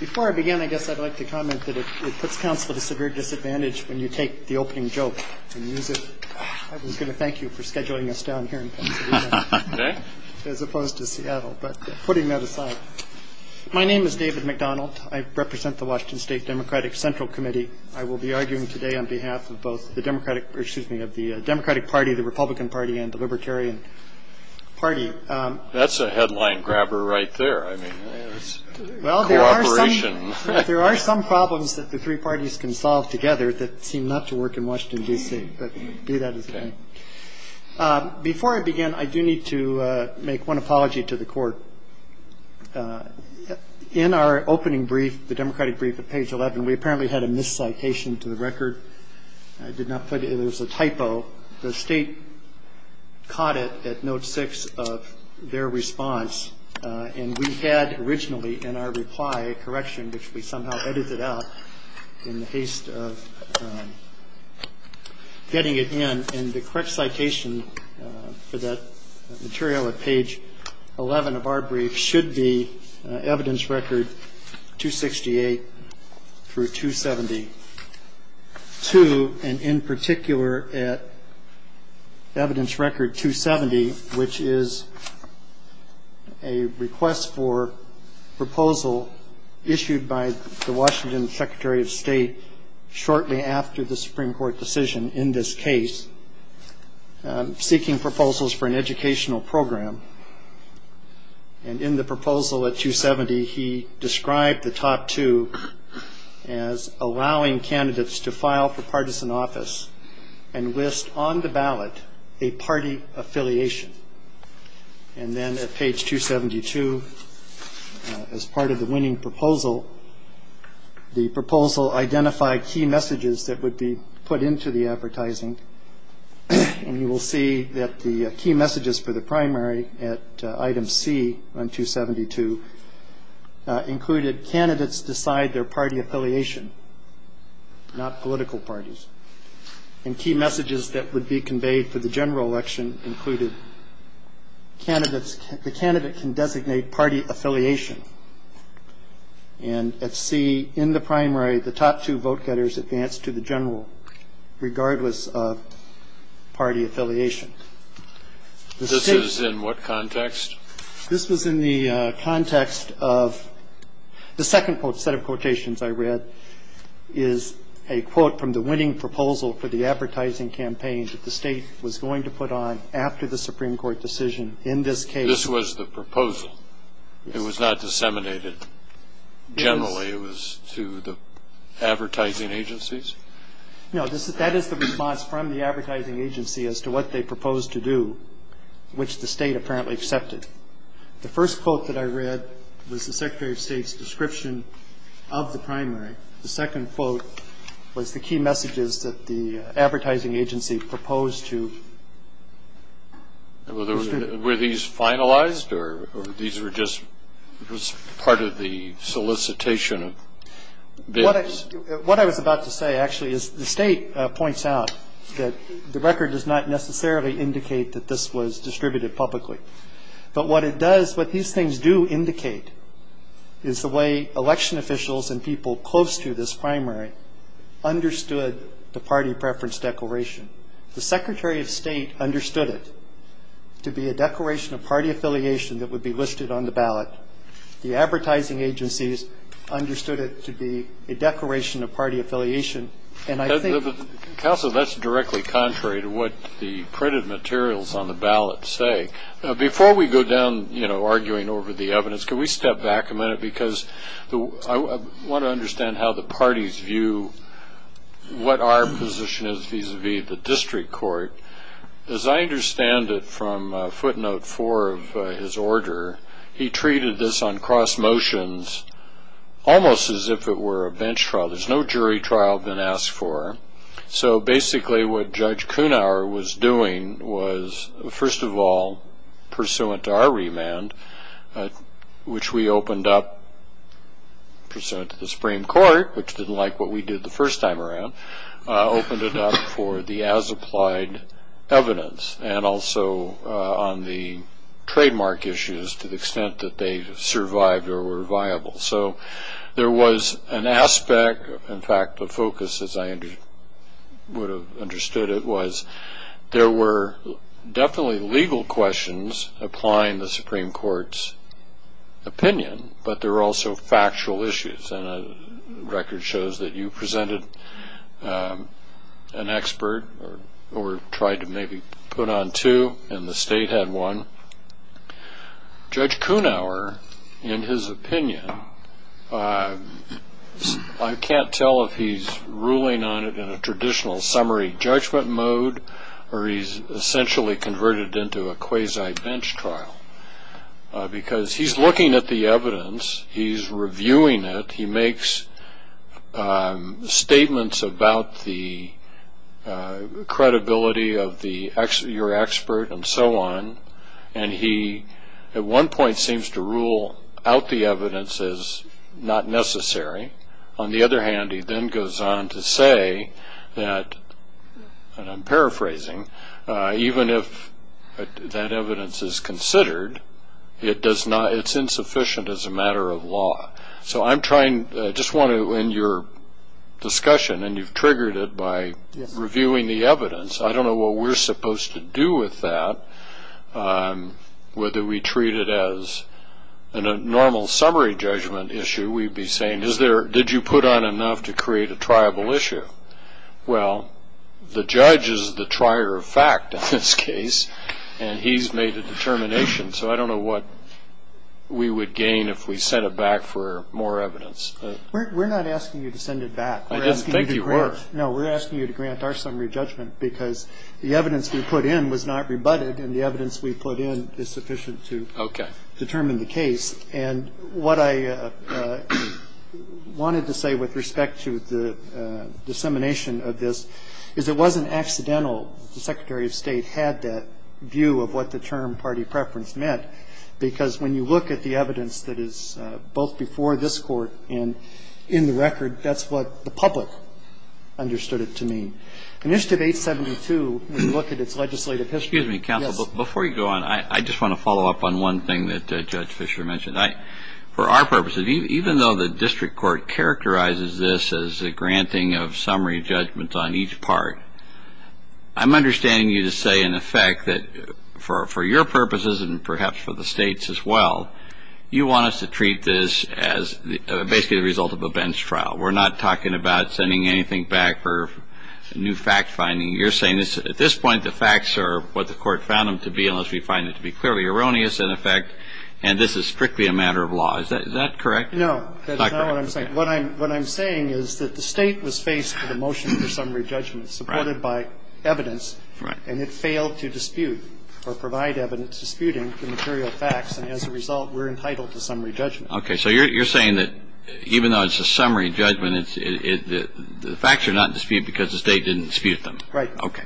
Before I begin, I guess I'd like to comment that it puts counsel to severe disadvantage when you take the opening joke and use it. I was going to thank you for scheduling us down here in Pennsylvania as opposed to Seattle. But putting that aside, my name is David McDonald. I represent the Washington State Democratic Central Committee. I will be arguing today on behalf of both the Democratic Party, the Republican Party, and the Libertarian Party. That's a headline grabber right there. I mean, it's cooperation. There are some problems that the three parties can solve together that seem not to work in Washington, D.C. But do that as you can. Before I begin, I do need to make one apology to the Court. In our opening brief, the Democratic brief at page 11, we apparently had a miscitation to the record. I did not put it. It was a typo. The State caught it at note 6 of their response. And we had originally in our reply a correction, which we somehow edited out in the haste of getting it in. And the correct citation for that material at page 11 of our brief should be evidence record 268 through 270. To and in particular at evidence record 270, which is a request for proposal issued by the Washington Secretary of State shortly after the Supreme Court decision in this case, seeking proposals for an educational program. And in the proposal at 270, he described the top two as allowing candidates to file for partisan office and list on the ballot a party affiliation. And then at page 272, as part of the winning proposal, the proposal identified key messages that would be put into the advertising. And you will see that the key messages for the primary at item C on 272 included candidates decide their party affiliation, not political parties. And key messages that would be conveyed for the general election included the candidate can designate party affiliation. And at C in the primary, the top two vote getters advanced to the general, regardless of party affiliation. This is in what context? This was in the context of the second set of quotations I read is a quote from the winning proposal for the advertising campaign that the State was going to put on after the Supreme Court decision in this case. This was the proposal. It was not disseminated generally. It was to the advertising agencies. No, that is the response from the advertising agency as to what they proposed to do, which the State apparently accepted. The first quote that I read was the Secretary of State's description of the primary. The second quote was the key messages that the advertising agency proposed to. Were these finalized, or these were just part of the solicitation of bids? What I was about to say, actually, is the State points out that the record does not necessarily indicate that this was distributed publicly. But what it does, what these things do indicate is the way election officials and people close to this primary understood the party preference declaration. The Secretary of State understood it to be a declaration of party affiliation that would be listed on the ballot. The advertising agencies understood it to be a declaration of party affiliation. And I think the ---- Counsel, that's directly contrary to what the printed materials on the ballot say. Before we go down, you know, arguing over the evidence, can we step back a minute? Because I want to understand how the parties view what our position is vis-a-vis the district court. As I understand it from footnote four of his order, he treated this on cross motions almost as if it were a bench trial. There's no jury trial been asked for. So basically what Judge Kunauer was doing was, first of all, pursuant to our remand, which we opened up, pursuant to the Supreme Court, which didn't like what we did the first time around, opened it up for the as-applied evidence and also on the trademark issues to the extent that they survived or were viable. So there was an aspect, in fact, the focus, as I would have understood it, was there were definitely legal questions applying the Supreme Court's opinion, but there were also factual issues. And the record shows that you presented an expert or tried to maybe put on two, and the state had one. Judge Kunauer, in his opinion, I can't tell if he's ruling on it in a traditional summary judgment mode or he's essentially converted into a quasi-bench trial because he's looking at the evidence, he's reviewing it, he makes statements about the credibility of your expert and so on, and he at one point seems to rule out the evidence as not necessary. On the other hand, he then goes on to say that, and I'm paraphrasing, even if that evidence is considered, it's insufficient as a matter of law. So I'm trying, I just want to, in your discussion, and you've triggered it by reviewing the evidence, I don't know what we're supposed to do with that, whether we treat it as a normal summary judgment issue. We'd be saying, did you put on enough to create a triable issue? Well, the judge is the trier of fact in this case, and he's made a determination, so I don't know what we would gain if we sent it back for more evidence. We're not asking you to send it back. I didn't think you were. No, we're asking you to grant our summary judgment because the evidence we put in was not rebutted and the evidence we put in is sufficient to determine the case. And what I wanted to say with respect to the dissemination of this is it wasn't accidental. The Secretary of State had that view of what the term party preference meant because when you look at the evidence that is both before this court and in the record, that's what the public understood it to mean. Initiative 872, when you look at its legislative history. Excuse me, counsel. Before you go on, I just want to follow up on one thing that Judge Fischer mentioned. For our purposes, even though the district court characterizes this as a granting of summary judgments on each part, I'm understanding you to say, in effect, that for your purposes and perhaps for the state's as well, you want us to treat this as basically the result of a bench trial. We're not talking about sending anything back for new fact finding. You're saying at this point the facts are what the court found them to be unless we find it to be clearly erroneous, in effect, and this is strictly a matter of law. Is that correct? No. That's not what I'm saying. What I'm saying is that the state was faced with a motion for summary judgment supported by evidence. Right. And it failed to dispute or provide evidence disputing the material facts. And as a result, we're entitled to summary judgment. Okay. So you're saying that even though it's a summary judgment, the facts are not disputed because the state didn't dispute them. Right. Okay.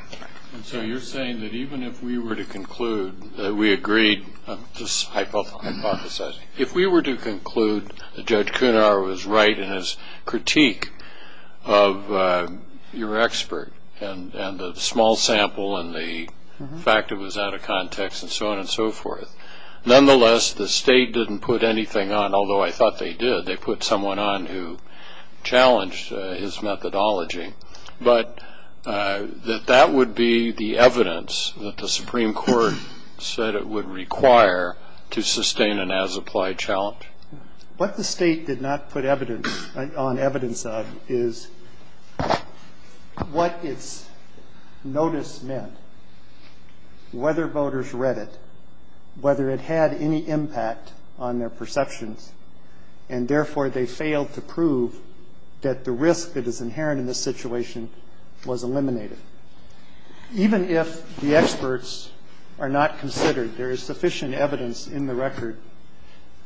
And so you're saying that even if we were to conclude that we agreed, just hypothesizing, if we were to conclude that Judge Kunar was right in his critique of your expert and the small sample and the fact it was out of context and so on and so forth, nonetheless the state didn't put anything on, although I thought they did. They put someone on who challenged his methodology. But that that would be the evidence that the Supreme Court said it would require to sustain an as-applied challenge? What the state did not put on evidence of is what its notice meant, whether voters read it, whether it had any impact on their perceptions, And therefore, they failed to prove that the risk that is inherent in this situation was eliminated. Even if the experts are not considered, there is sufficient evidence in the record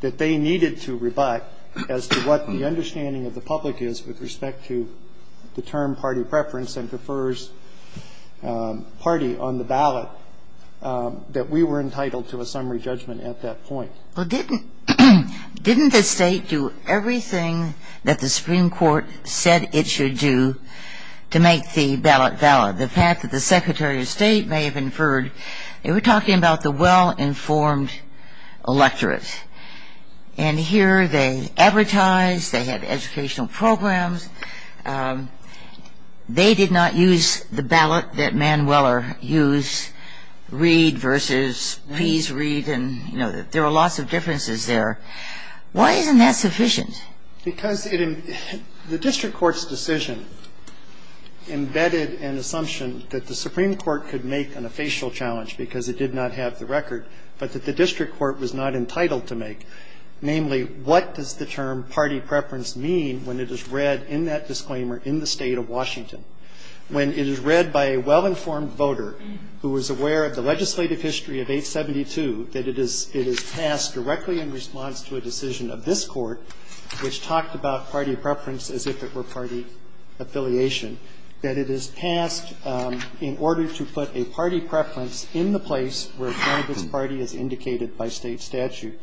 that they needed to rebut as to what the understanding of the public is with respect to the term party preference and prefers party on the ballot, that we were entitled to a summary judgment at that point. Well, didn't the state do everything that the Supreme Court said it should do to make the ballot valid? The fact that the Secretary of State may have inferred, they were talking about the well-informed electorate. And here they advertised, they had educational programs, they did not use the ballot that Man Weller used, and they did not use the ballot that the Supreme Court used, and they did not use the ballot that the Supreme Court used, and they did not use the ballot that the Supreme Court used. And so you have a lot of things to say that the state did not read versus please read and, you know, there are lots of differences there. Why isn't that sufficient? Because the district court's decision embedded an assumption that the Supreme Court could make on a facial challenge because it did not have the record, but that the district court was not entitled to make. Namely, what does the term party preference mean when it is read in that disclaimer in the State of Washington? When it is read by a well-informed voter who is aware of the legislative history of 872, that it is passed directly in response to a decision of this Court, which talked about party preference as if it were party affiliation, that it is passed in order to put a party preference in the place where one of its parties is indicated by state statute,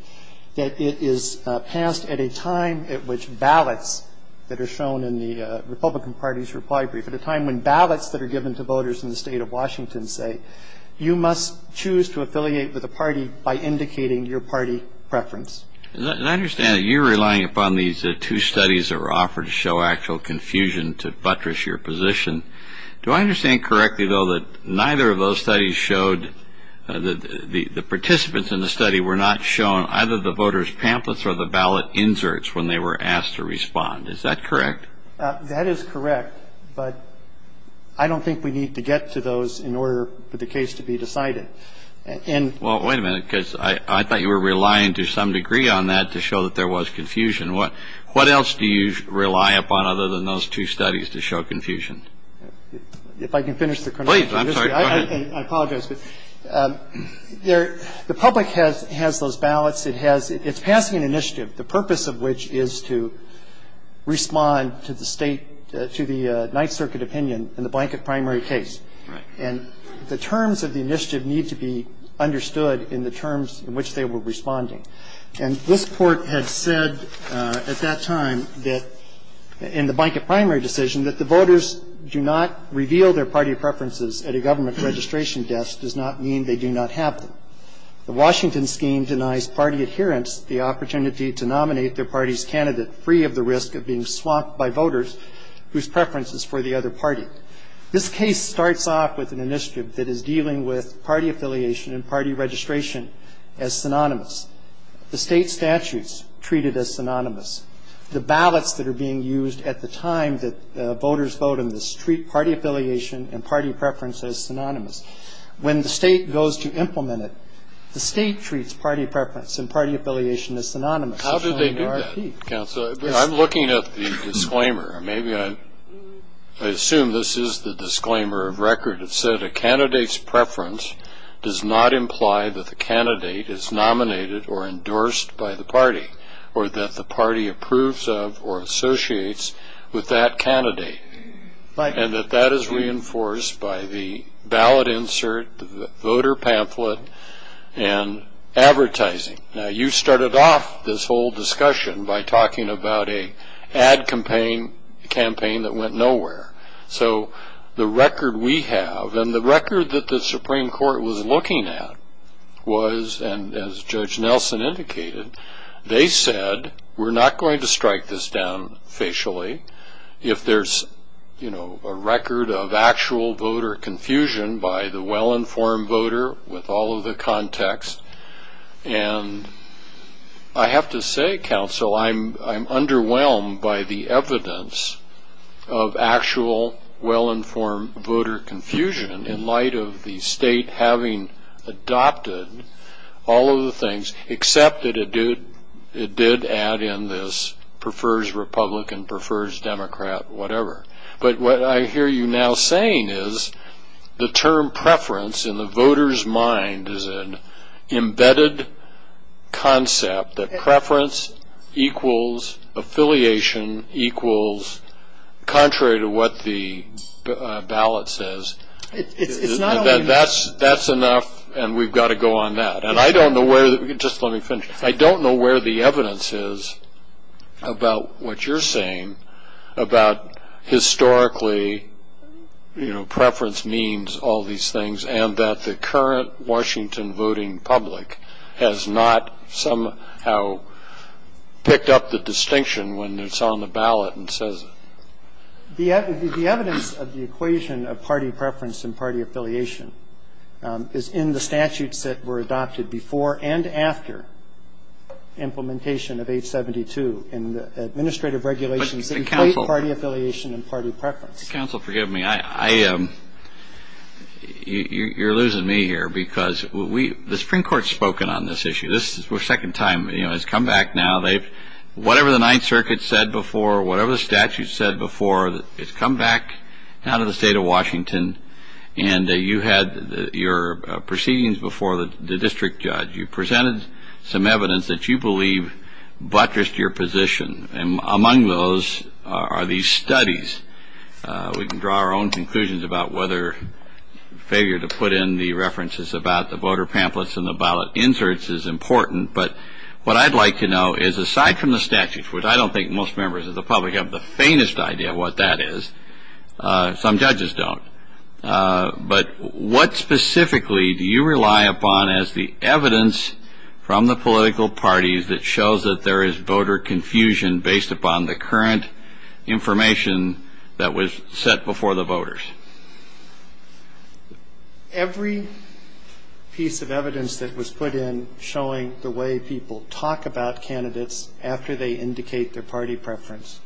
that it is passed at a time at which ballots that are shown in the Republican Party's reply brief, at a time when ballots that are given to voters in the State of Washington say, you must choose to affiliate with a party by indicating your party preference. And I understand that you're relying upon these two studies that were offered to show actual confusion to buttress your position. Do I understand correctly, though, that neither of those studies showed that the participants in the study were not shown either the voters' pamphlets or the ballot inserts when they were asked to respond? Is that correct? That is correct. But I don't think we need to get to those in order for the case to be decided. And ---- Well, wait a minute, because I thought you were relying to some degree on that to show that there was confusion. What else do you rely upon other than those two studies to show confusion? If I can finish the chronology of history. Please. I'm sorry. Go ahead. I apologize. But the public has those ballots. It has ---- it's passing an initiative, the purpose of which is to respond to the State to the Ninth Circuit opinion in the blanket primary case. Right. And the terms of the initiative need to be understood in the terms in which they were responding. And this Court had said at that time that in the blanket primary decision that the voters do not reveal their party preferences at a government registration desk does not mean they do not have them. The Washington scheme denies party adherents the opportunity to nominate their party's voters whose preference is for the other party. This case starts off with an initiative that is dealing with party affiliation and party registration as synonymous. The State statutes treat it as synonymous. The ballots that are being used at the time that voters vote on this treat party affiliation and party preference as synonymous. When the State goes to implement it, the State treats party preference and party affiliation as synonymous. How did they do that, counsel? I'm looking at the disclaimer. Maybe I assume this is the disclaimer of record. It said a candidate's preference does not imply that the candidate is nominated or endorsed by the party or that the party approves of or associates with that candidate, and that that is reinforced by the ballot insert, the voter pamphlet, and advertising. Now, you started off this whole discussion by talking about an ad campaign that went nowhere. So the record we have and the record that the Supreme Court was looking at was, and as Judge Nelson indicated, they said we're not going to strike this down facially if there's a record of actual voter confusion by the well-informed voter with all of the context and I have to say, counsel, I'm underwhelmed by the evidence of actual well-informed voter confusion in light of the State having adopted all of the things, except that it did add in this prefers Republican, prefers Democrat, whatever. But what I hear you now saying is the term preference in the voter's mind is an embedded concept that preference equals affiliation equals contrary to what the ballot says. That's enough and we've got to go on that. And I don't know where, just let me finish, I don't know where the evidence is about what you're saying about historically, you know, preference means all these things and that the current Washington voting public has not somehow picked up the distinction when it's on the ballot and says it. The evidence of the equation of party preference and party affiliation is in the statutes that were adopted before and after implementation of 872 in the administrative regulations that include party affiliation and party preference. Counsel, forgive me, you're losing me here because the Supreme Court has spoken on this issue. This is our second time, you know, it's come back now. Whatever the Ninth Circuit said before, whatever the statute said before, it's come back now to the State of Washington and you had your proceedings before the district judge. You presented some evidence that you believe buttressed your position, and among those are these studies. We can draw our own conclusions about whether failure to put in the references about the voter pamphlets and the ballot inserts is important, but what I'd like to know is aside from the statutes, which I don't think most members of the public have the faintest idea what that is, some judges don't, but what specifically do you rely upon as the evidence from the political parties that shows that there is voter confusion based upon the current information that was set before the voters? Every piece of evidence that was put in showing the way people talk about candidates after they indicate their party preference.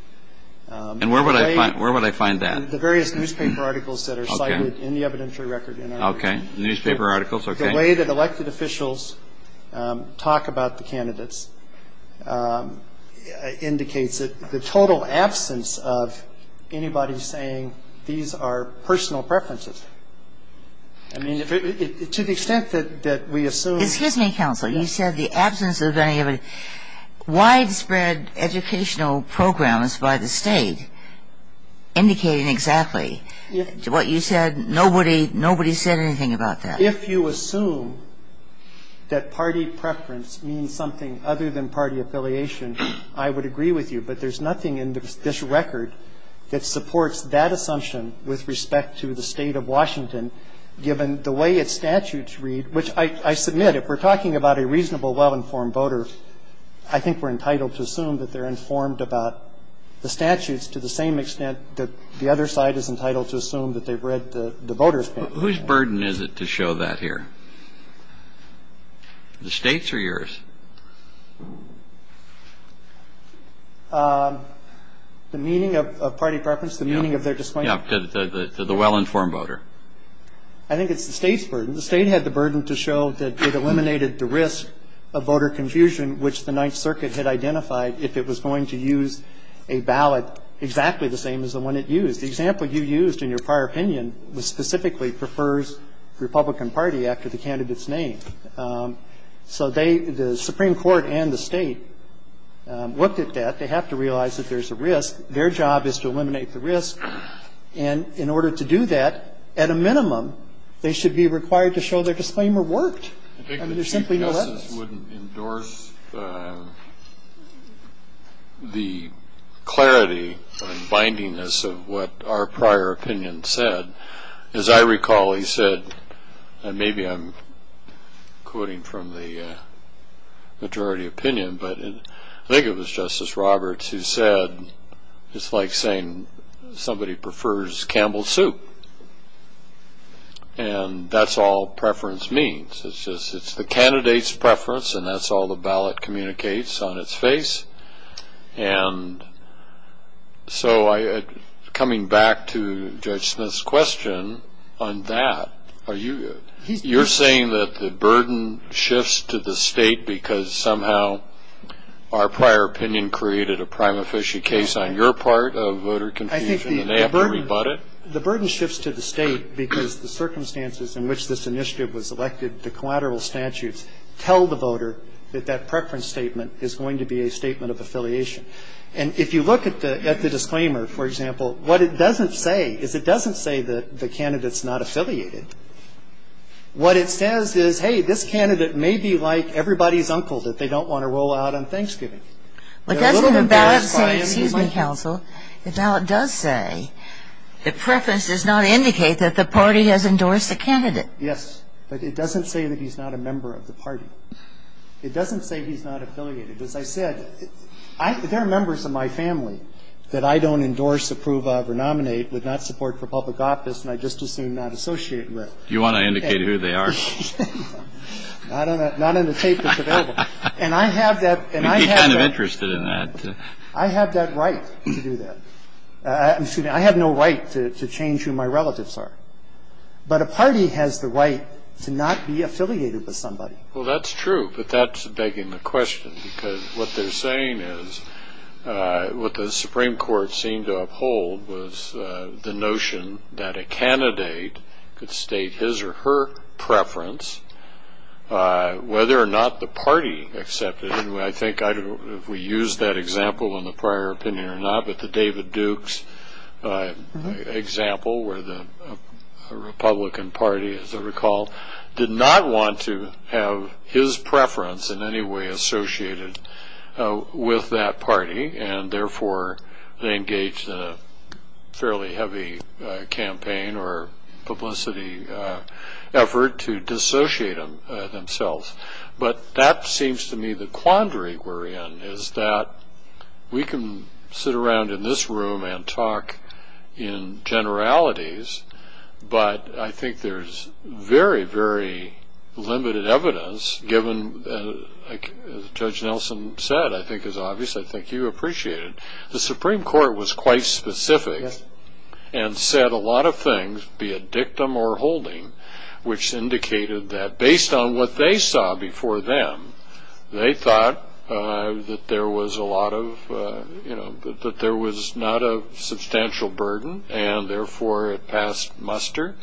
And where would I find that? The various newspaper articles that are cited in the evidentiary record. Okay. Newspaper articles. Okay. The way that elected officials talk about the candidates indicates that the total absence of anybody saying these are personal preferences. I mean, to the extent that we assume. Excuse me, counsel. You said the absence of any of the widespread educational programs by the state indicating exactly what you said. Nobody said anything about that. If you assume that party preference means something other than party affiliation, I would agree with you, but there's nothing in this record that supports that assumption with respect to the State of Washington given the way its statutes read, which I submit if we're talking about a reasonable, well-informed voter, I think we're entitled to assume that they're informed about the statutes to the same extent that the other side is entitled to assume that they've read the voters' pamphlets. Whose burden is it to show that here? The State's or yours? The meaning of party preference, the meaning of their discipline. Yeah. I think it's the State's burden. The State had the burden to show that it eliminated the risk of voter confusion, which the Ninth Circuit had identified if it was going to use a ballot exactly the same as the one it used. The example you used in your prior opinion specifically prefers the Republican Party after the candidate's name. So they, the Supreme Court and the State, looked at that. They have to realize that there's a risk. Their job is to eliminate the risk. And in order to do that, at a minimum, they should be required to show their disclaimer worked. I mean, there's simply no evidence. I think the CPSs wouldn't endorse the clarity and bindingness of what our prior opinion said. As I recall, he said, and maybe I'm quoting from the majority opinion, but I think it was Justice Roberts who said, it's like saying somebody prefers Campbell's soup. And that's all preference means. It's the candidate's preference, and that's all the ballot communicates on its face. And so coming back to Judge Smith's question on that, you're saying that the burden shifts to the State because somehow our prior opinion created a prima facie case on your part of voter confusion and they have to rebut it? The burden shifts to the State because the circumstances in which this initiative was elected, the collateral statutes tell the voter that that preference statement is going to be a statement of affiliation. And if you look at the disclaimer, for example, what it doesn't say is it doesn't say that the candidate's not affiliated. What it says is, hey, this candidate may be like everybody's uncle that they don't want to roll out on Thanksgiving. But doesn't the ballot say, excuse me, counsel, the ballot does say that preference does not indicate that the party has endorsed the candidate. Yes, but it doesn't say that he's not a member of the party. It doesn't say he's not affiliated. As I said, there are members of my family that I don't endorse, approve of or nominate, would not support for public office, and I just assume not associated with. You want to indicate who they are? Not in the tape that's available. And I have that and I have that. You'd be kind of interested in that. I have that right to do that. Excuse me. I have no right to change who my relatives are. But a party has the right to not be affiliated with somebody. Well, that's true, but that's begging the question, because what they're saying is what the Supreme Court seemed to uphold was the notion that a candidate could state his or her preference whether or not the party accepted it. And I think I don't know if we used that example in the prior opinion or not, but the David Dukes example where the Republican Party, as I recall, did not want to have his preference in any way associated with that party, and therefore they engaged in a fairly heavy campaign or publicity effort to dissociate themselves. But that seems to me the quandary we're in is that we can sit around in this room and talk in generalities, but I think there's very, very limited evidence given, as Judge Nelson said, I think is obvious, I think you appreciate it. The Supreme Court was quite specific and said a lot of things, be it dictum or holding, which indicated that based on what they saw before them, they thought that there was not a substantial burden, and therefore it passed muster.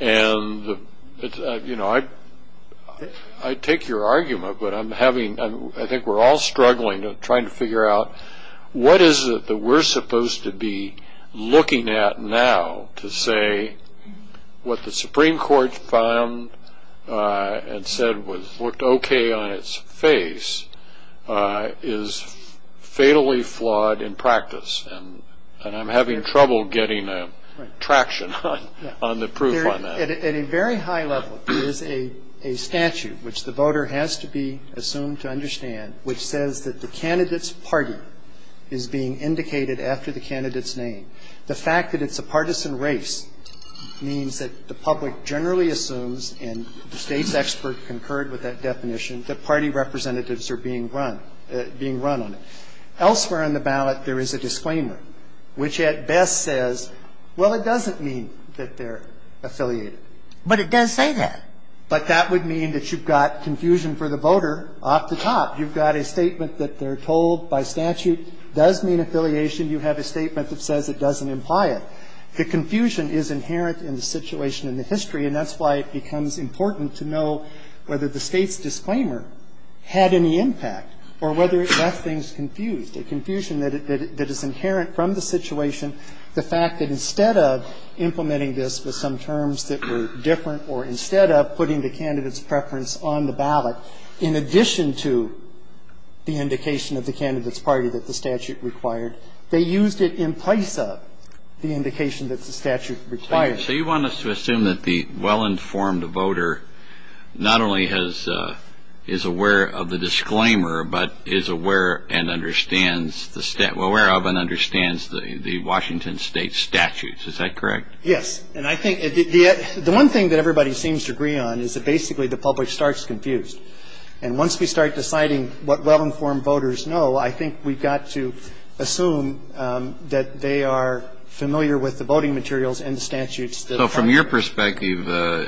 And I take your argument, but I think we're all struggling trying to figure out what is it that we're supposed to be looking at now to say what the Supreme Court found and said worked okay on its face is fatally flawed in practice, and I'm having trouble getting traction on the proof on that. At a very high level, there is a statute, which the voter has to be assumed to understand, which says that the candidate's party is being indicated after the candidate's name. The fact that it's a partisan race means that the public generally assumes, and the State's expert concurred with that definition, that party representatives are being run, being run on it. Elsewhere on the ballot, there is a disclaimer, which at best says, well, it doesn't mean that they're affiliated. But it does say that. But that would mean that you've got confusion for the voter off the top. You've got a statement that they're told by statute does mean affiliation. You have a statement that says it doesn't imply it. The confusion is inherent in the situation in the history, and that's why it becomes important to know whether the State's disclaimer had any impact or whether it left things confused, a confusion that is inherent from the situation. The fact that instead of implementing this with some terms that were different or instead of putting the candidate's preference on the ballot, in addition to the indication of the candidate's party that the statute required, they used it in place of the indication that the statute required. Kennedy. So you want us to assume that the well-informed voter not only has ‑‑ is aware of the disclaimer, but is aware and understands the ‑‑ well, aware of and understands the Washington State statutes. Is that correct? Yes. And I think the ‑‑ the one thing that everybody seems to agree on is that basically the public starts confused. And once we start deciding what well-informed voters know, I think we've got to assume that they are familiar with the voting materials and the statutes that apply. So from your perspective,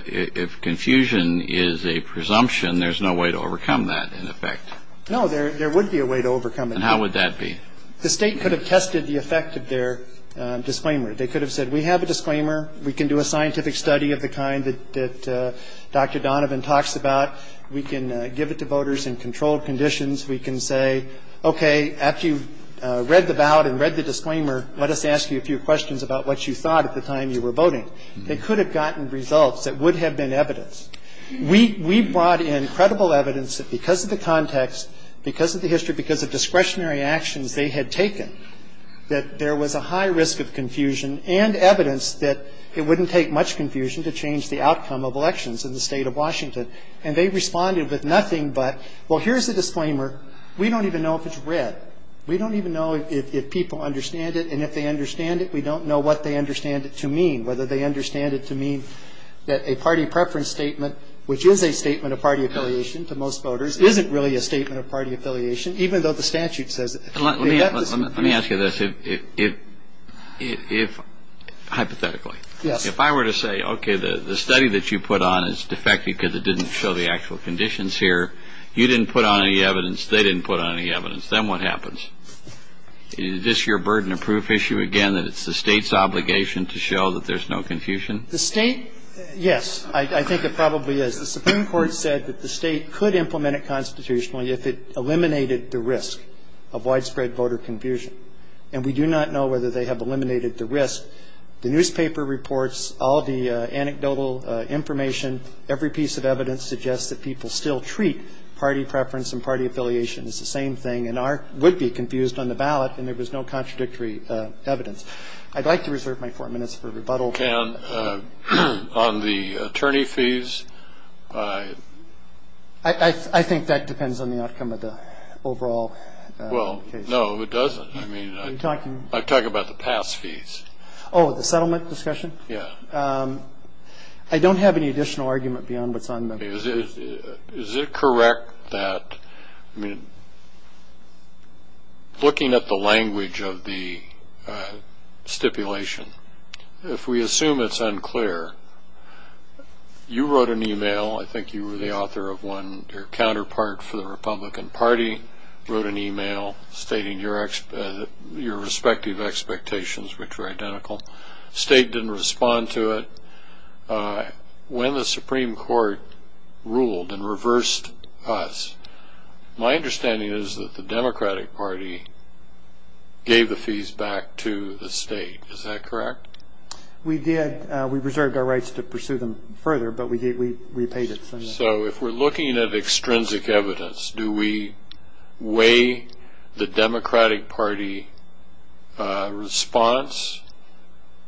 if confusion is a presumption, there's no way to overcome that, in effect. No, there would be a way to overcome it. And how would that be? The State could have tested the effect of their disclaimer. They could have said, we have a disclaimer. We can do a scientific study of the kind that Dr. Donovan talks about. We can give it to voters in controlled conditions. We can say, okay, after you read the ballot and read the disclaimer, let us ask you a few questions about what you thought at the time you were voting. They could have gotten results that would have been evidence. We brought in credible evidence that because of the context, because of the history, because of discretionary actions they had taken, that there was a high risk of confusion and evidence that it wouldn't take much confusion to change the outcome of elections in the State of Washington. And they responded with nothing but, well, here's the disclaimer. We don't even know if it's read. We don't even know if people understand it. And if they understand it, we don't know what they understand it to mean, whether they understand it to mean that a party preference statement, which is a statement of party affiliation to most voters, isn't really a statement of party affiliation, even though the statute says it. Let me ask you this. If, hypothetically, if I were to say, okay, the study that you put on is defective because it didn't show the actual conditions here, you didn't put on any evidence, they didn't put on any evidence, then what happens? Is this your burden of proof issue again, that it's the State's obligation to show that there's no confusion? The State, yes, I think it probably is. The Supreme Court said that the State could implement it constitutionally if it eliminated the risk of widespread voter confusion. And we do not know whether they have eliminated the risk. The newspaper reports all the anecdotal information. Every piece of evidence suggests that people still treat party preference and party affiliation as the same thing and would be confused on the ballot and there was no contradictory evidence. I'd like to reserve my four minutes for rebuttal. On the attorney fees? I think that depends on the outcome of the overall case. Well, no, it doesn't. I'm talking about the pass fees. Oh, the settlement discussion? Yeah. I don't have any additional argument beyond what's on the papers. Is it correct that looking at the language of the stipulation, if we assume it's unclear, you wrote an email, I think you were the author of one, and your counterpart for the Republican Party wrote an email stating your respective expectations, which were identical. The State didn't respond to it. When the Supreme Court ruled and reversed us, my understanding is that the Democratic Party gave the fees back to the State. Is that correct? We did. We reserved our rights to pursue them further, but we paid it. So if we're looking at extrinsic evidence, do we weigh the Democratic Party response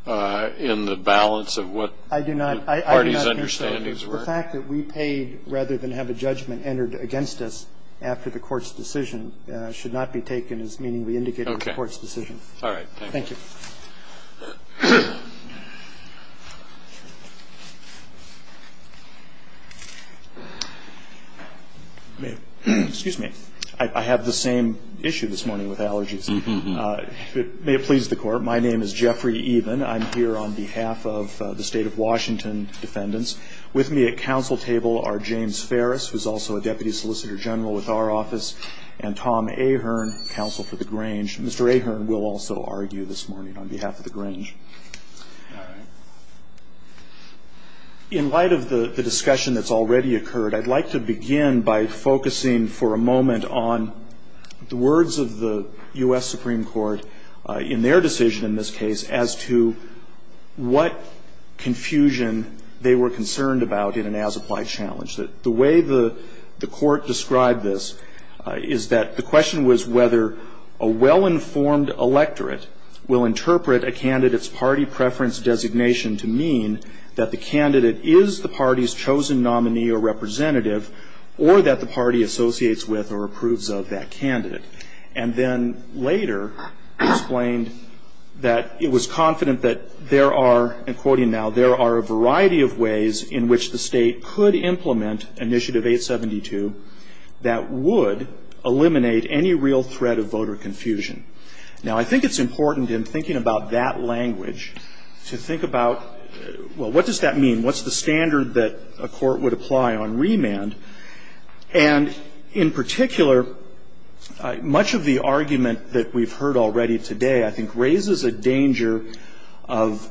in the balance of what the party's understandings were? I do not understand. The fact that we paid rather than have a judgment entered against us after the court's decision should not be taken as meaning we indicated in the court's decision. All right. Thank you. Excuse me. I have the same issue this morning with allergies. May it please the Court. My name is Jeffrey Even. I'm here on behalf of the State of Washington defendants. With me at counsel table are James Ferris, who's also a deputy solicitor general with our office, and Tom Ahern, counsel for the Grange. Mr. Ahern will also argue this morning. All right. In light of the discussion that's already occurred, I'd like to begin by focusing for a moment on the words of the U.S. Supreme Court in their decision in this case as to what confusion they were concerned about in an as-applied challenge. The way the court described this is that the question was whether a well-informed electorate will interpret a candidate's party preference designation to mean that the candidate is the party's chosen nominee or representative or that the party associates with or approves of that candidate. And then later explained that it was confident that there are, and quoting now, there are a variety of ways in which the state could implement Initiative 872 that would eliminate any real threat of voter confusion. Now, I think it's important in thinking about that language to think about, well, what does that mean? What's the standard that a court would apply on remand? And in particular, much of the argument that we've heard already today, I think, raises a danger of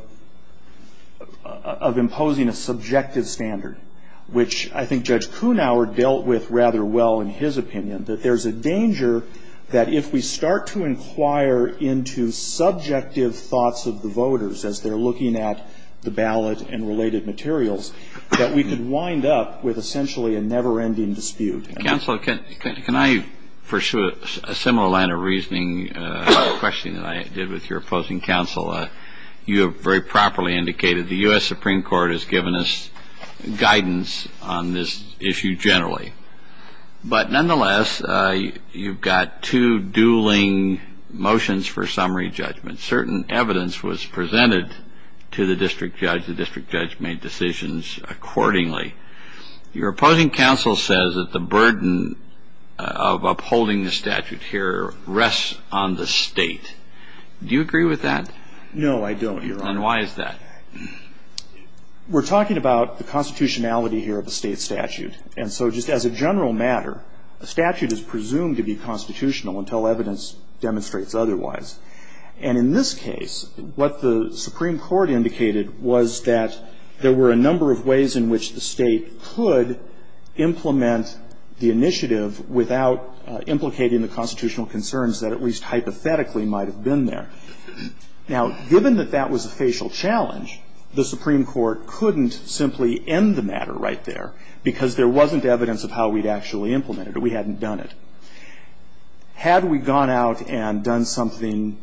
imposing a subjective standard, which I think Judge Kunawer dealt with rather well in his opinion, that there's a danger that if we start to inquire into subjective thoughts of the voters as they're looking at the ballot and related materials, that we could wind up with essentially a never-ending dispute. Counsel, can I pursue a similar line of reasoning, a question that I did with your opposing counsel? You have very properly indicated the U.S. Supreme Court has given us guidance on this issue generally. But nonetheless, you've got two dueling motions for summary judgment. Certain evidence was presented to the district judge. The district judge made decisions accordingly. Your opposing counsel says that the burden of upholding the statute here rests on the state. Do you agree with that? No, I don't, Your Honor. Then why is that? We're talking about the constitutionality here of the state statute. And so just as a general matter, a statute is presumed to be constitutional until evidence demonstrates otherwise. And in this case, what the Supreme Court indicated was that there were a number of ways in which the state could implement the initiative without implicating the constitutional concerns that at least hypothetically might have been there. Now, given that that was a facial challenge, the Supreme Court couldn't simply end the matter right there because there wasn't evidence of how we'd actually implemented it. We hadn't done it. Had we gone out and done something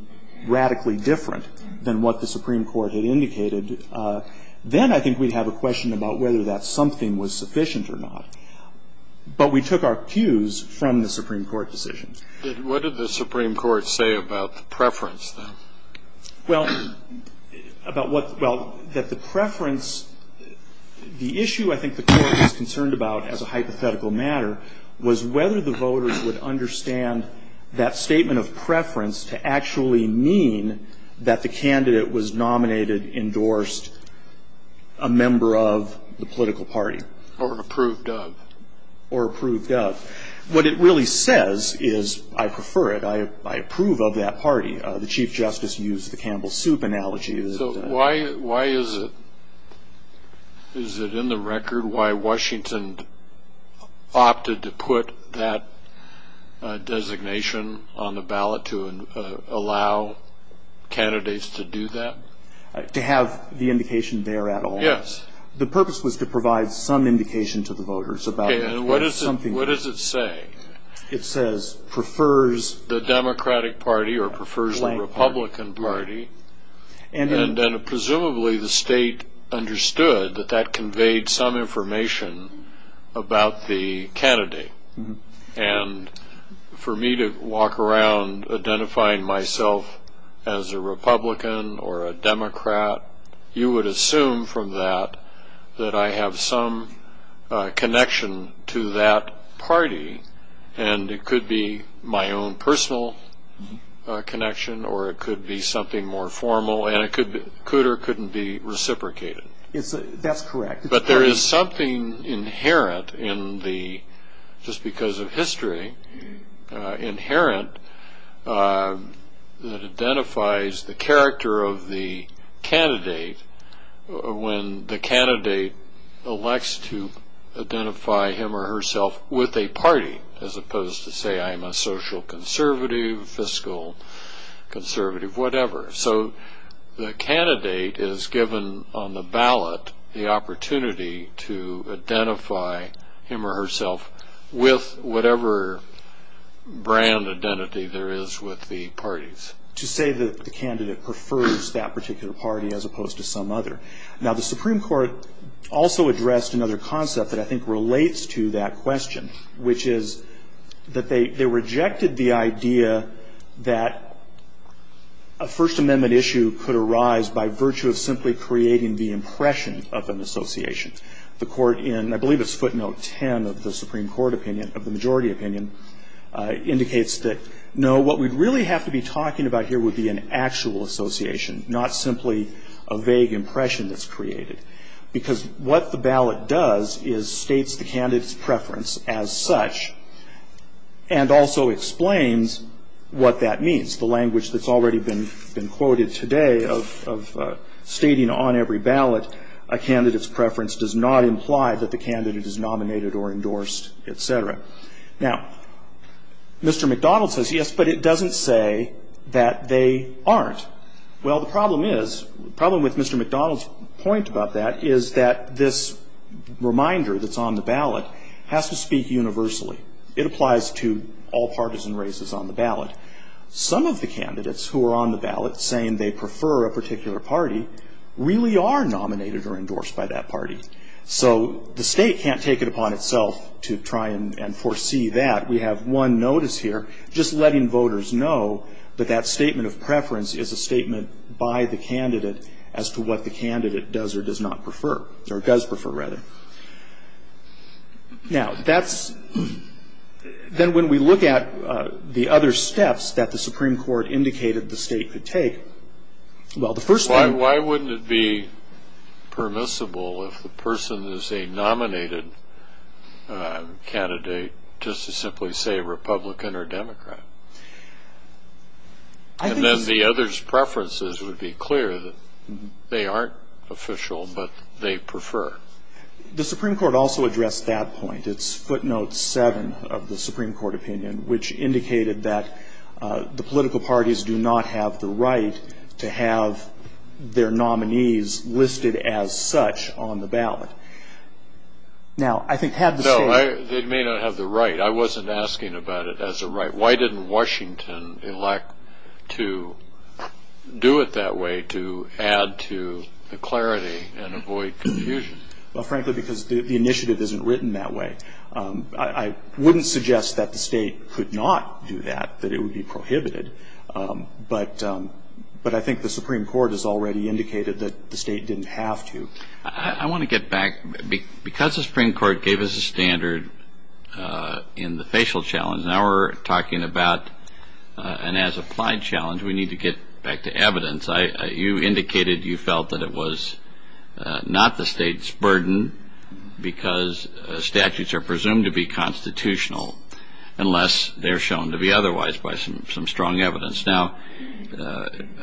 radically different than what the Supreme Court had indicated, then I think we'd have a question about whether that something was sufficient or not. But we took our cues from the Supreme Court decisions. What did the Supreme Court say about the preference, then? Well, about what the preference, the issue I think the Court was concerned about as a hypothetical matter was whether the voters would understand that statement of preference to actually mean that the candidate was nominated, endorsed, a member of the political party. Or approved of. Or approved of. What it really says is I prefer it. I approve of that party. The Chief Justice used the Campbell Soup analogy. So why is it in the record why Washington opted to put that designation on the ballot to allow candidates to do that? To have the indication there at all. Yes. The purpose was to provide some indication to the voters about something. Okay. And what does it say? It says prefers the Democratic Party or prefers the Republican Party. And presumably the state understood that that conveyed some information about the candidate. And for me to walk around identifying myself as a Republican or a Democrat, you would assume from that that I have some connection to that party. And it could be my own personal connection or it could be something more formal. And it could or couldn't be reciprocated. That's correct. But there is something inherent in the, just because of history, inherent that identifies the character of the candidate when the candidate elects to identify him or herself with a party as opposed to say I'm a social conservative, fiscal conservative, whatever. So the candidate is given on the ballot the opportunity to identify him or herself with whatever brand identity there is with the parties. To say that the candidate prefers that particular party as opposed to some other. Now, the Supreme Court also addressed another concept that I think relates to that question, which is that they rejected the idea that a First Amendment issue could arise by virtue of simply creating the impression of an association. The court in, I believe it's footnote 10 of the Supreme Court opinion, of the majority opinion, indicates that no, what we'd really have to be talking about here would be an actual association, not simply a vague impression that's created. Because what the ballot does is states the candidate's preference as such and also explains what that means. The language that's already been quoted today of stating on every ballot a candidate's preference does not imply that the candidate is nominated or endorsed, etc. Now, Mr. McDonald says yes, but it doesn't say that they aren't. Well, the problem is, the problem with Mr. McDonald's point about that is that this reminder that's on the ballot has to speak universally. It applies to all partisan races on the ballot. Some of the candidates who are on the ballot saying they prefer a particular party really are nominated or endorsed by that party. So the state can't take it upon itself to try and foresee that. We have one notice here just letting voters know that that statement of preference is a statement by the candidate as to what the candidate does or does not prefer, or does prefer, rather. Now, that's, then when we look at the other steps that the Supreme Court indicated the state could take, well, the first thing... Why wouldn't it be permissible if the person is a nominated candidate just to simply say Republican or Democrat? And then the other's preferences would be clear that they aren't official, but they prefer. The Supreme Court also addressed that point. It's footnote 7 of the Supreme Court opinion, which indicated that the political parties do not have the right to have their nominees listed as such on the ballot. Now, I think had the state... No, they may not have the right. I wasn't asking about it as a right. Why didn't Washington elect to do it that way to add to the clarity and avoid confusion? Well, frankly, because the initiative isn't written that way. I wouldn't suggest that the state could not do that, that it would be prohibited. But I think the Supreme Court has already indicated that the state didn't have to. I want to get back. Because the Supreme Court gave us a standard in the facial challenge, now we're talking about an as-applied challenge, we need to get back to evidence. You indicated you felt that it was not the state's burden because statutes are presumed to be constitutional, unless they're shown to be otherwise by some strong evidence. Now,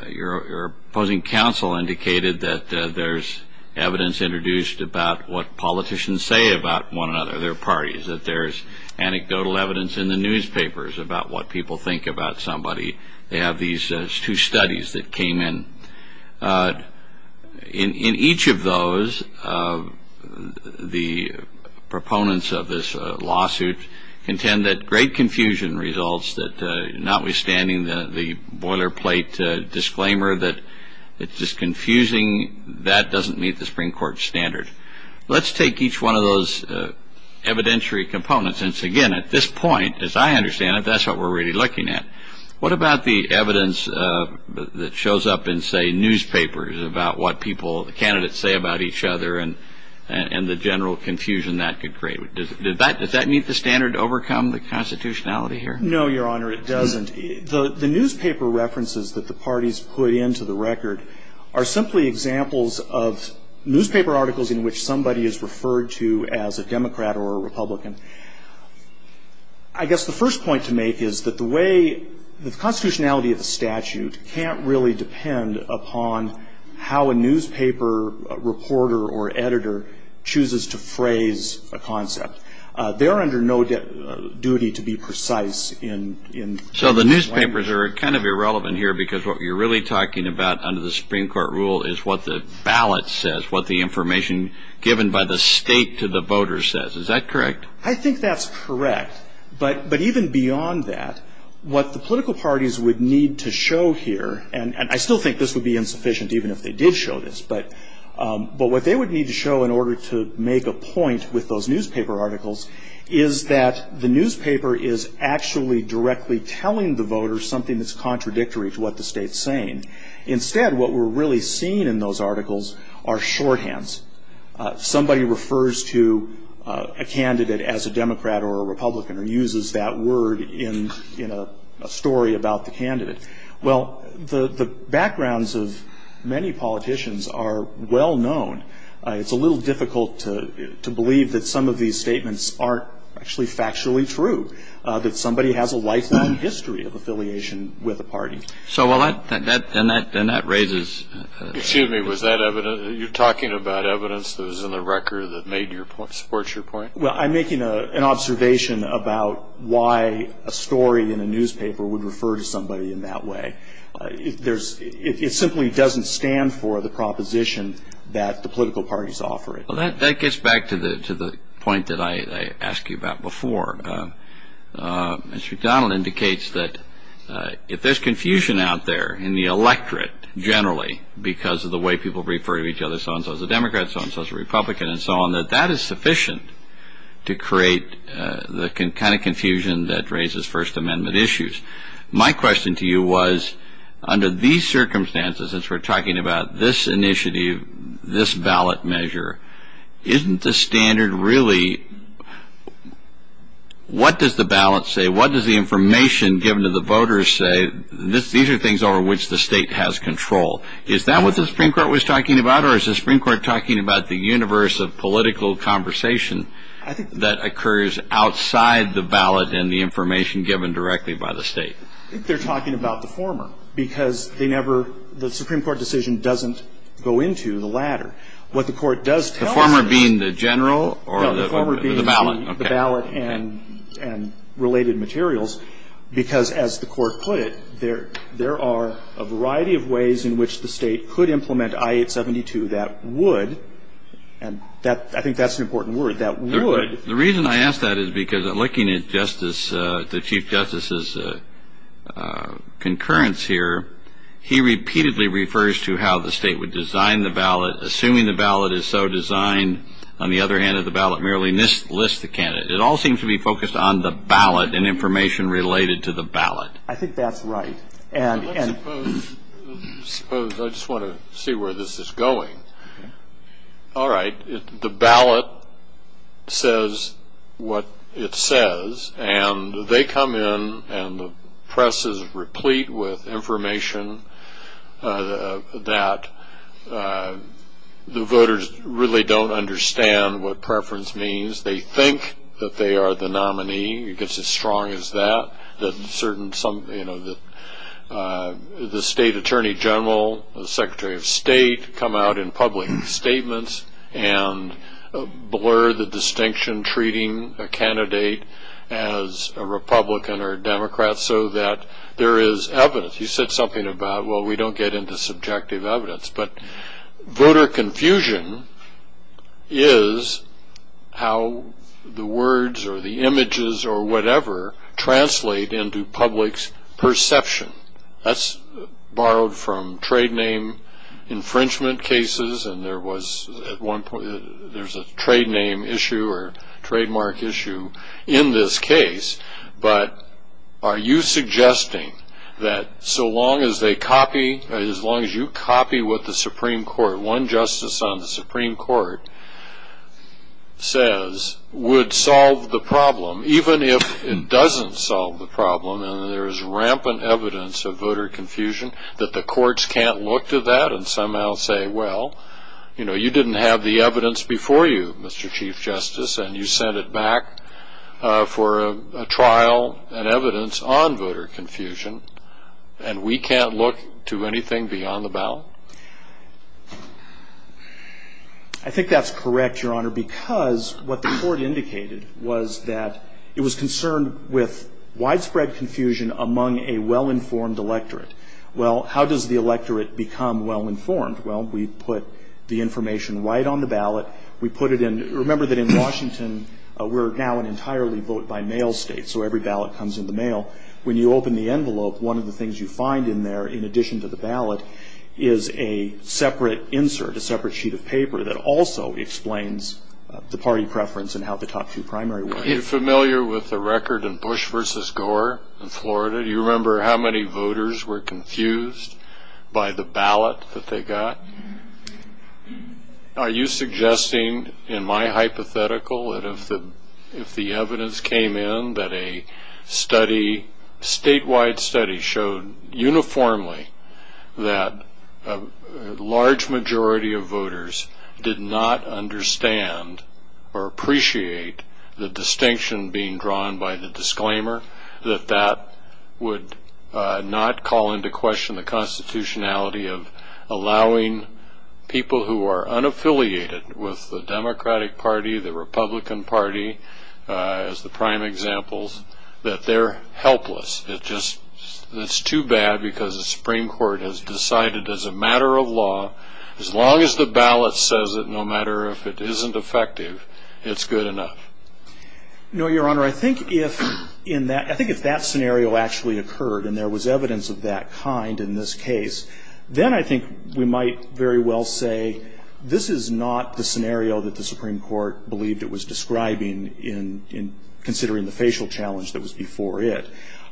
your opposing counsel indicated that there's evidence introduced about what politicians say about one another, their parties, that there's anecdotal evidence in the newspapers about what people think about somebody. They have these two studies that came in. In each of those, the proponents of this lawsuit contend that great confusion results, that notwithstanding the boilerplate disclaimer that it's just confusing, that doesn't meet the Supreme Court standard. Let's take each one of those evidentiary components. Again, at this point, as I understand it, that's what we're really looking at. What about the evidence that shows up in, say, newspapers about what people, the candidates say about each other and the general confusion that could create? Does that meet the standard to overcome the constitutionality here? No, Your Honor, it doesn't. The newspaper references that the parties put into the record are simply examples of newspaper articles in which somebody is referred to as a Democrat or a Republican. I guess the first point to make is that the way the constitutionality of the statute can't really depend upon how a newspaper reporter or editor chooses to phrase a concept. They are under no duty to be precise in the language. So the newspapers are kind of irrelevant here because what you're really talking about under the Supreme Court rule is what the ballot says, what the information given by the state to the voters says. Is that correct? I think that's correct. But even beyond that, what the political parties would need to show here, and I still think this would be insufficient even if they did show this, but what they would need to show in order to make a point with those newspaper articles is that the newspaper is actually directly telling the voters something that's contradictory to what the state's saying. Instead, what we're really seeing in those articles are shorthands. Somebody refers to a candidate as a Democrat or a Republican or uses that word in a story about the candidate. Well, the backgrounds of many politicians are well known. It's a little difficult to believe that some of these statements aren't actually factually true, that somebody has a lifelong history of affiliation with a party. And that raises the question. Excuse me. Was that evidence? Are you talking about evidence that was in the record that supports your point? Well, I'm making an observation about why a story in a newspaper would refer to somebody in that way. It simply doesn't stand for the proposition that the political parties offer it. Well, that gets back to the point that I asked you about before. Mr. McDonald indicates that if there's confusion out there in the electorate generally because of the way people refer to each other, so-and-so is a Democrat, so-and-so is a Republican, and so on, that that is sufficient to create the kind of confusion that raises First Amendment issues. My question to you was, under these circumstances, since we're talking about this initiative, this ballot measure, isn't the standard really what does the ballot say? What does the information given to the voters say? These are things over which the state has control. Is that what the Supreme Court was talking about, or is the Supreme Court talking about the universe of political conversation that occurs outside the ballot and the information given directly by the state? I think they're talking about the former because the Supreme Court decision doesn't go into the latter. What the court does tell us is... The former being the general or the ballot? No, the former being the ballot and related materials because, as the court put it, there are a variety of ways in which the state could implement I-872 that would, and I think that's an important word, that would... The reason I ask that is because looking at the Chief Justice's concurrence here, he repeatedly refers to how the state would design the ballot, assuming the ballot is so designed, on the other hand, that the ballot merely lists the candidate. It all seems to be focused on the ballot and information related to the ballot. I think that's right. Suppose, I just want to see where this is going. All right, the ballot says what it says, and they come in and the press is replete with information that the voters really don't understand what preference means. They think that they are the nominee. It gets as strong as that. The State Attorney General, the Secretary of State come out in public statements and blur the distinction treating a candidate as a Republican or a Democrat so that there is evidence. He said something about, well, we don't get into subjective evidence, but voter confusion is how the words or the images or whatever translate into public's perception. That's borrowed from trade name infringement cases, and there's a trade name issue or trademark issue in this case. But are you suggesting that so long as they copy, as long as you copy what the Supreme Court, one justice on the Supreme Court, says would solve the problem, even if it doesn't solve the problem and there is rampant evidence of voter confusion, that the courts can't look to that and somehow say, well, you know, you didn't have the evidence before you, Mr. Chief Justice, and you sent it back for a trial and evidence on voter confusion, and we can't look to anything beyond the ballot? I think that's correct, Your Honor, because what the court indicated was that it was concerned with widespread confusion among a well-informed electorate. Well, how does the electorate become well-informed? Well, we put the information right on the ballot. We put it in. Remember that in Washington, we're now an entirely vote-by-mail state, so every ballot comes in the mail. When you open the envelope, one of the things you find in there, in addition to the ballot, is a separate insert, a separate sheet of paper, that also explains the party preference and how the top two primary were. Are you familiar with the record in Bush v. Gore in Florida? Do you remember how many voters were confused by the ballot that they got? Are you suggesting, in my hypothetical, that if the evidence came in that a statewide study showed uniformly that a large majority of voters did not understand or appreciate the distinction being drawn by the disclaimer, that that would not call into question the constitutionality of allowing people who are unaffiliated with the Democratic Party, the Republican Party, as the prime examples, that they're helpless? It's too bad because the Supreme Court has decided, as a matter of law, as long as the ballot says it, no matter if it isn't effective, it's good enough. No, Your Honor. I think if that scenario actually occurred and there was evidence of that kind in this case, then I think we might very well say this is not the scenario that the Supreme Court believed it was describing in considering the facial challenge that was before it.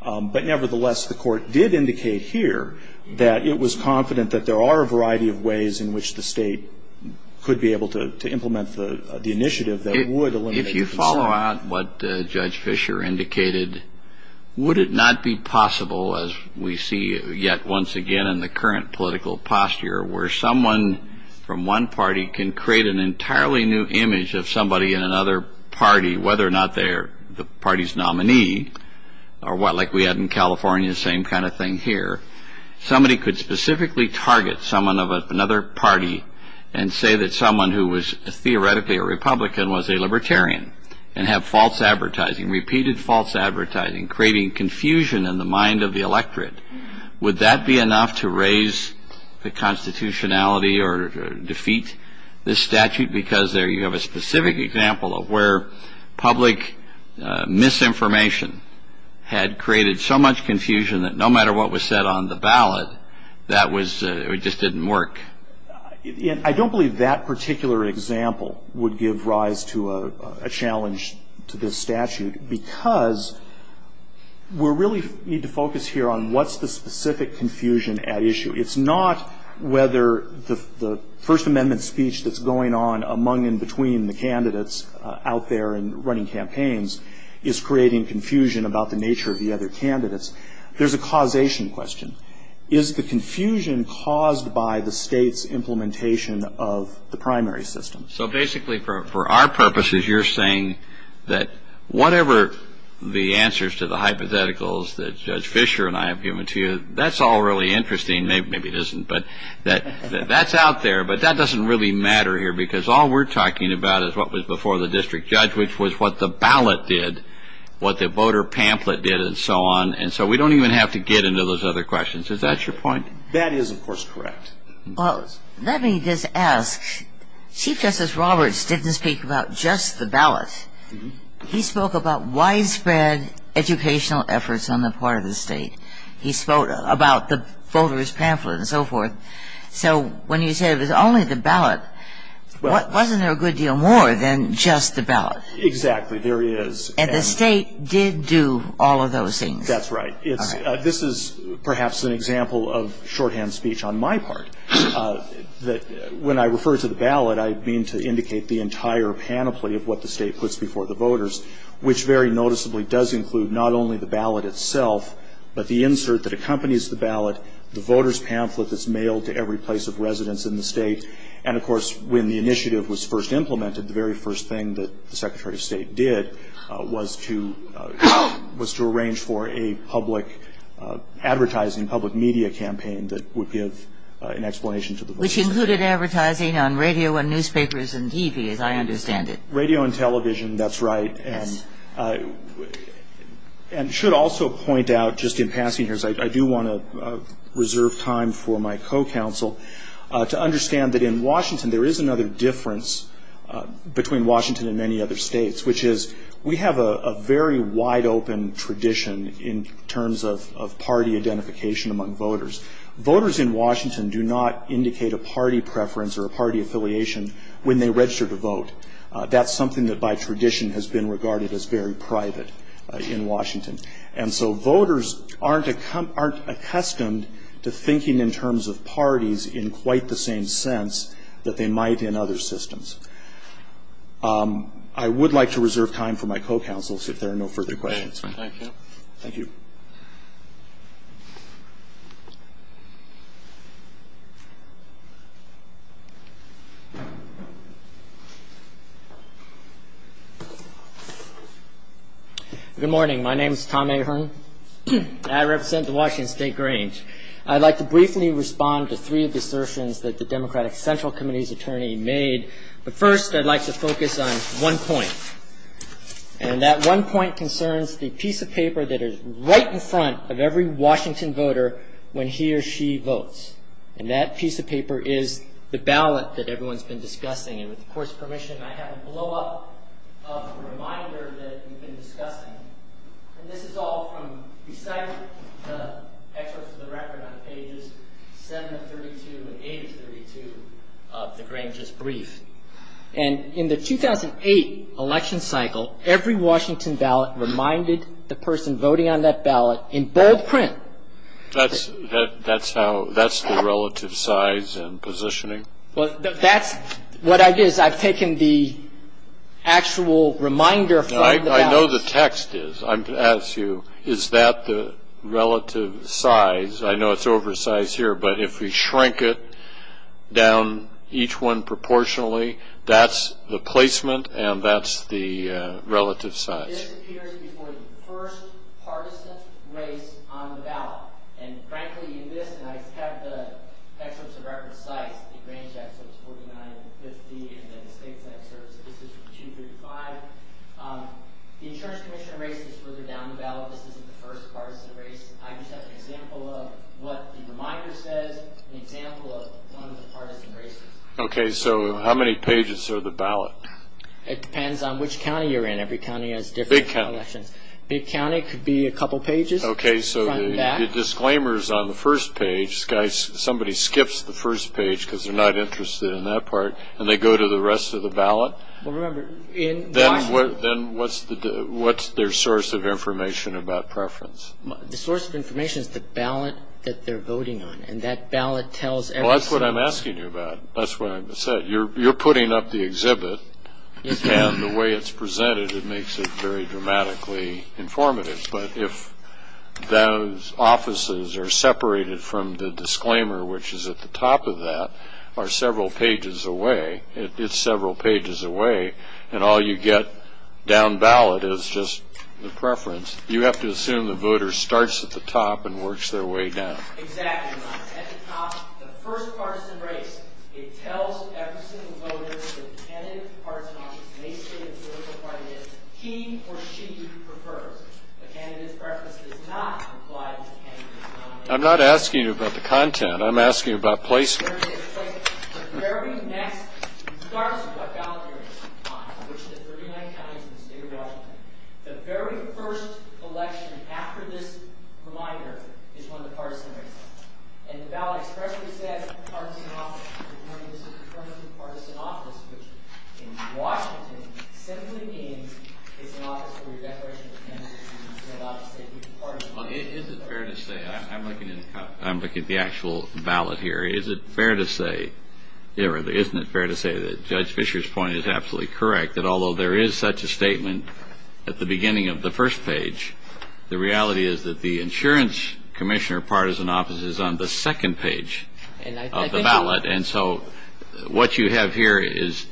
But nevertheless, the Court did indicate here that it was confident that there are a variety of ways in which the state could be able to implement the initiative that would eliminate concern. If you follow out what Judge Fischer indicated, would it not be possible, as we see yet once again in the current political posture, where someone from one party can create an entirely new image of somebody in another party, whether or not they're the party's nominee, or like we had in California, the same kind of thing here. Somebody could specifically target someone of another party and say that someone who was theoretically a Republican was a libertarian and have false advertising, repeated false advertising, creating confusion in the mind of the electorate. Would that be enough to raise the constitutionality or defeat this statute? Because there you have a specific example of where public misinformation had created so much confusion that no matter what was said on the ballot, that was, it just didn't work. I don't believe that particular example would give rise to a challenge to this statute because we really need to focus here on what's the specific confusion at issue. It's not whether the First Amendment speech that's going on among and between the candidates out there and running campaigns is creating confusion about the nature of the other candidates. There's a causation question. Is the confusion caused by the state's implementation of the primary system? So basically, for our purposes, you're saying that whatever the answers to the hypotheticals that Judge Fischer and I have given to you, that's all really interesting. Maybe it isn't, but that's out there. But that doesn't really matter here because all we're talking about is what was before the district judge, which was what the ballot did, what the voter pamphlet did, and so on. And so we don't even have to get into those other questions. Is that your point? That is, of course, correct. Well, let me just ask. Chief Justice Roberts didn't speak about just the ballot. He spoke about widespread educational efforts on the part of the state. He spoke about the voter's pamphlet and so forth. So when you said it was only the ballot, wasn't there a good deal more than just the ballot? Exactly. There is. And the state did do all of those things. That's right. This is perhaps an example of shorthand speech on my part, that when I refer to the ballot, I mean to indicate the entire panoply of what the state puts before the voters, which very noticeably does include not only the ballot itself, but the insert that accompanies the ballot, the voter's pamphlet that's mailed to every place of residence in the state. And, of course, when the initiative was first implemented, the very first thing that the Secretary of State did was to arrange for a public advertising, public media campaign that would give an explanation to the voters. Which included advertising on radio and newspapers and TV, as I understand it. Radio and television, that's right. Yes. And should also point out, just in passing here, I do want to reserve time for my co-counsel to understand that in Washington, there is another difference between Washington and many other states, which is we have a very wide open tradition in terms of party identification among voters. Voters in Washington do not indicate a party preference or a party affiliation when they register to vote. That's something that by tradition has been regarded as very private in Washington. And so voters aren't accustomed to thinking in terms of parties in quite the same sense that they might in other systems. I would like to reserve time for my co-counsel if there are no further questions. Thank you. Thank you. Good morning. My name is Tom Ahern. I represent the Washington State Grange. I'd like to briefly respond to three assertions that the Democratic Central Committee's attorney made. But first, I'd like to focus on one point. And that one point concerns the piece of paper that is right in front of every Washington voter when he or she votes. And that piece of paper is the ballot that everyone's been discussing. And with the Court's permission, I have a blowup of a reminder that we've been discussing. And this is all from beside the excerpts of the record on pages 7 of 32 and 8 of 32 of the Grange's brief. And in the 2008 election cycle, every Washington ballot reminded the person voting on that ballot in bold print. What I did is I've taken the actual reminder from the ballot. I know the text is. I'm going to ask you, is that the relative size? I know it's oversized here, but if we shrink it down each one proportionally, that's the placement and that's the relative size. This appears before the first partisan race on the ballot. And, frankly, in this, and I have the excerpts of record size, the Grange excerpts, 49 and 50, and then the state's excerpts, this is from 235. The Insurance Commission race is further down the ballot. This isn't the first partisan race. I just have an example of what the reminder says and an example of one of the partisan races. Okay, so how many pages are the ballot? It depends on which county you're in. Every county has different elections. Big county. Big county could be a couple pages. Okay, so the disclaimer is on the first page. Somebody skips the first page because they're not interested in that part, and they go to the rest of the ballot. Well, remember, in Washington. Then what's their source of information about preference? The source of information is the ballot that they're voting on, and that ballot tells every citizen. Well, that's what I'm asking you about. That's what I said. You're putting up the exhibit, and the way it's presented, it makes it very dramatically informative. But if those offices are separated from the disclaimer, which is at the top of that, are several pages away, it's several pages away, and all you get down ballot is just the preference. You have to assume the voter starts at the top and works their way down. Exactly, Mike. At the top, the first partisan race, it tells every single voter the tentative partisan office, he or she prefers. The candidate's preference does not apply to the candidate's nomination. I'm not asking you about the content. I'm asking you about placement. Placement. Placement. The very next, it starts with what ballot you're voting on, which is 39 counties in the state of Washington. The very first election after this reminder is when the partisan race starts. And the ballot expressly says partisan office. I'm looking at the actual ballot here. Is it fair to say, or isn't it fair to say that Judge Fischer's point is absolutely correct, that although there is such a statement at the beginning of the first page, the reality is that the insurance commissioner partisan office is on the second page of the ballot, and so it's not a partisan office. And so what you have here is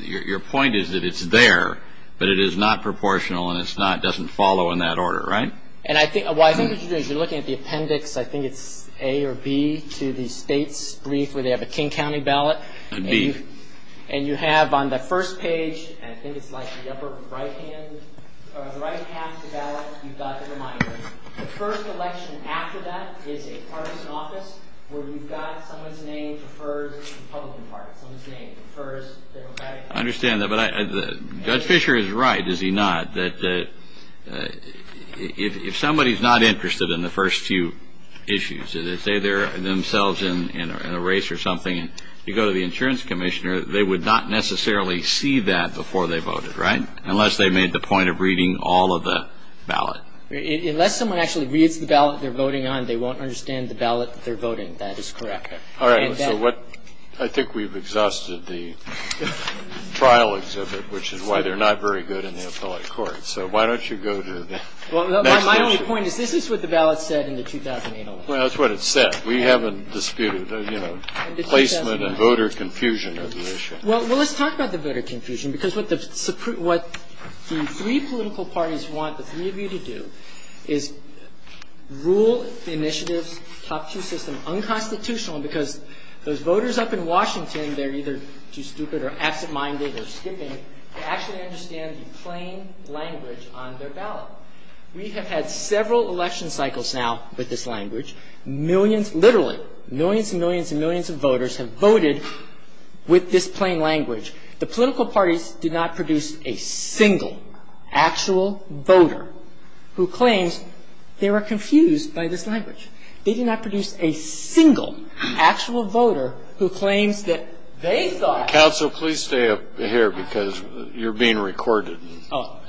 your point is that it's there, but it is not proportional and it doesn't follow in that order, right? And I think what you're doing is you're looking at the appendix. I think it's A or B to the state's brief where they have a King County ballot. B. And you have on the first page, and I think it's like the upper right-hand, or the right-half of the ballot, you've got the reminder. The first election after that is a partisan office where you've got someone's name refers to the Republican Party, someone's name refers to the Democratic Party. I understand that, but Judge Fischer is right, is he not, that if somebody's not interested in the first few issues, say they're themselves in a race or something, you go to the insurance commissioner, they would not necessarily see that before they voted, right, unless they made the point of reading all of the ballot. Unless someone actually reads the ballot they're voting on, they won't understand the ballot that they're voting. That is correct. And that — All right. So what — I think we've exhausted the trial exhibit, which is why they're not very good in the appellate court. So why don't you go to the next issue? Well, my only point is this is what the ballot said in the 2008 election. Well, that's what it said. We haven't disputed, you know, placement and voter confusion of the issue. Well, let's talk about the voter confusion, because what the three political parties want the three of you to do is rule the initiative's top two system unconstitutional, because those voters up in Washington, they're either too stupid or absent-minded or skipping, they actually understand the plain language on their ballot. We have had several election cycles now with this language. Millions, literally millions and millions and millions of voters have voted with this plain language. The political parties do not produce a single actual voter who claims they were confused by this language. They do not produce a single actual voter who claims that they thought — Counsel, please stay up here, because you're being recorded. Oh,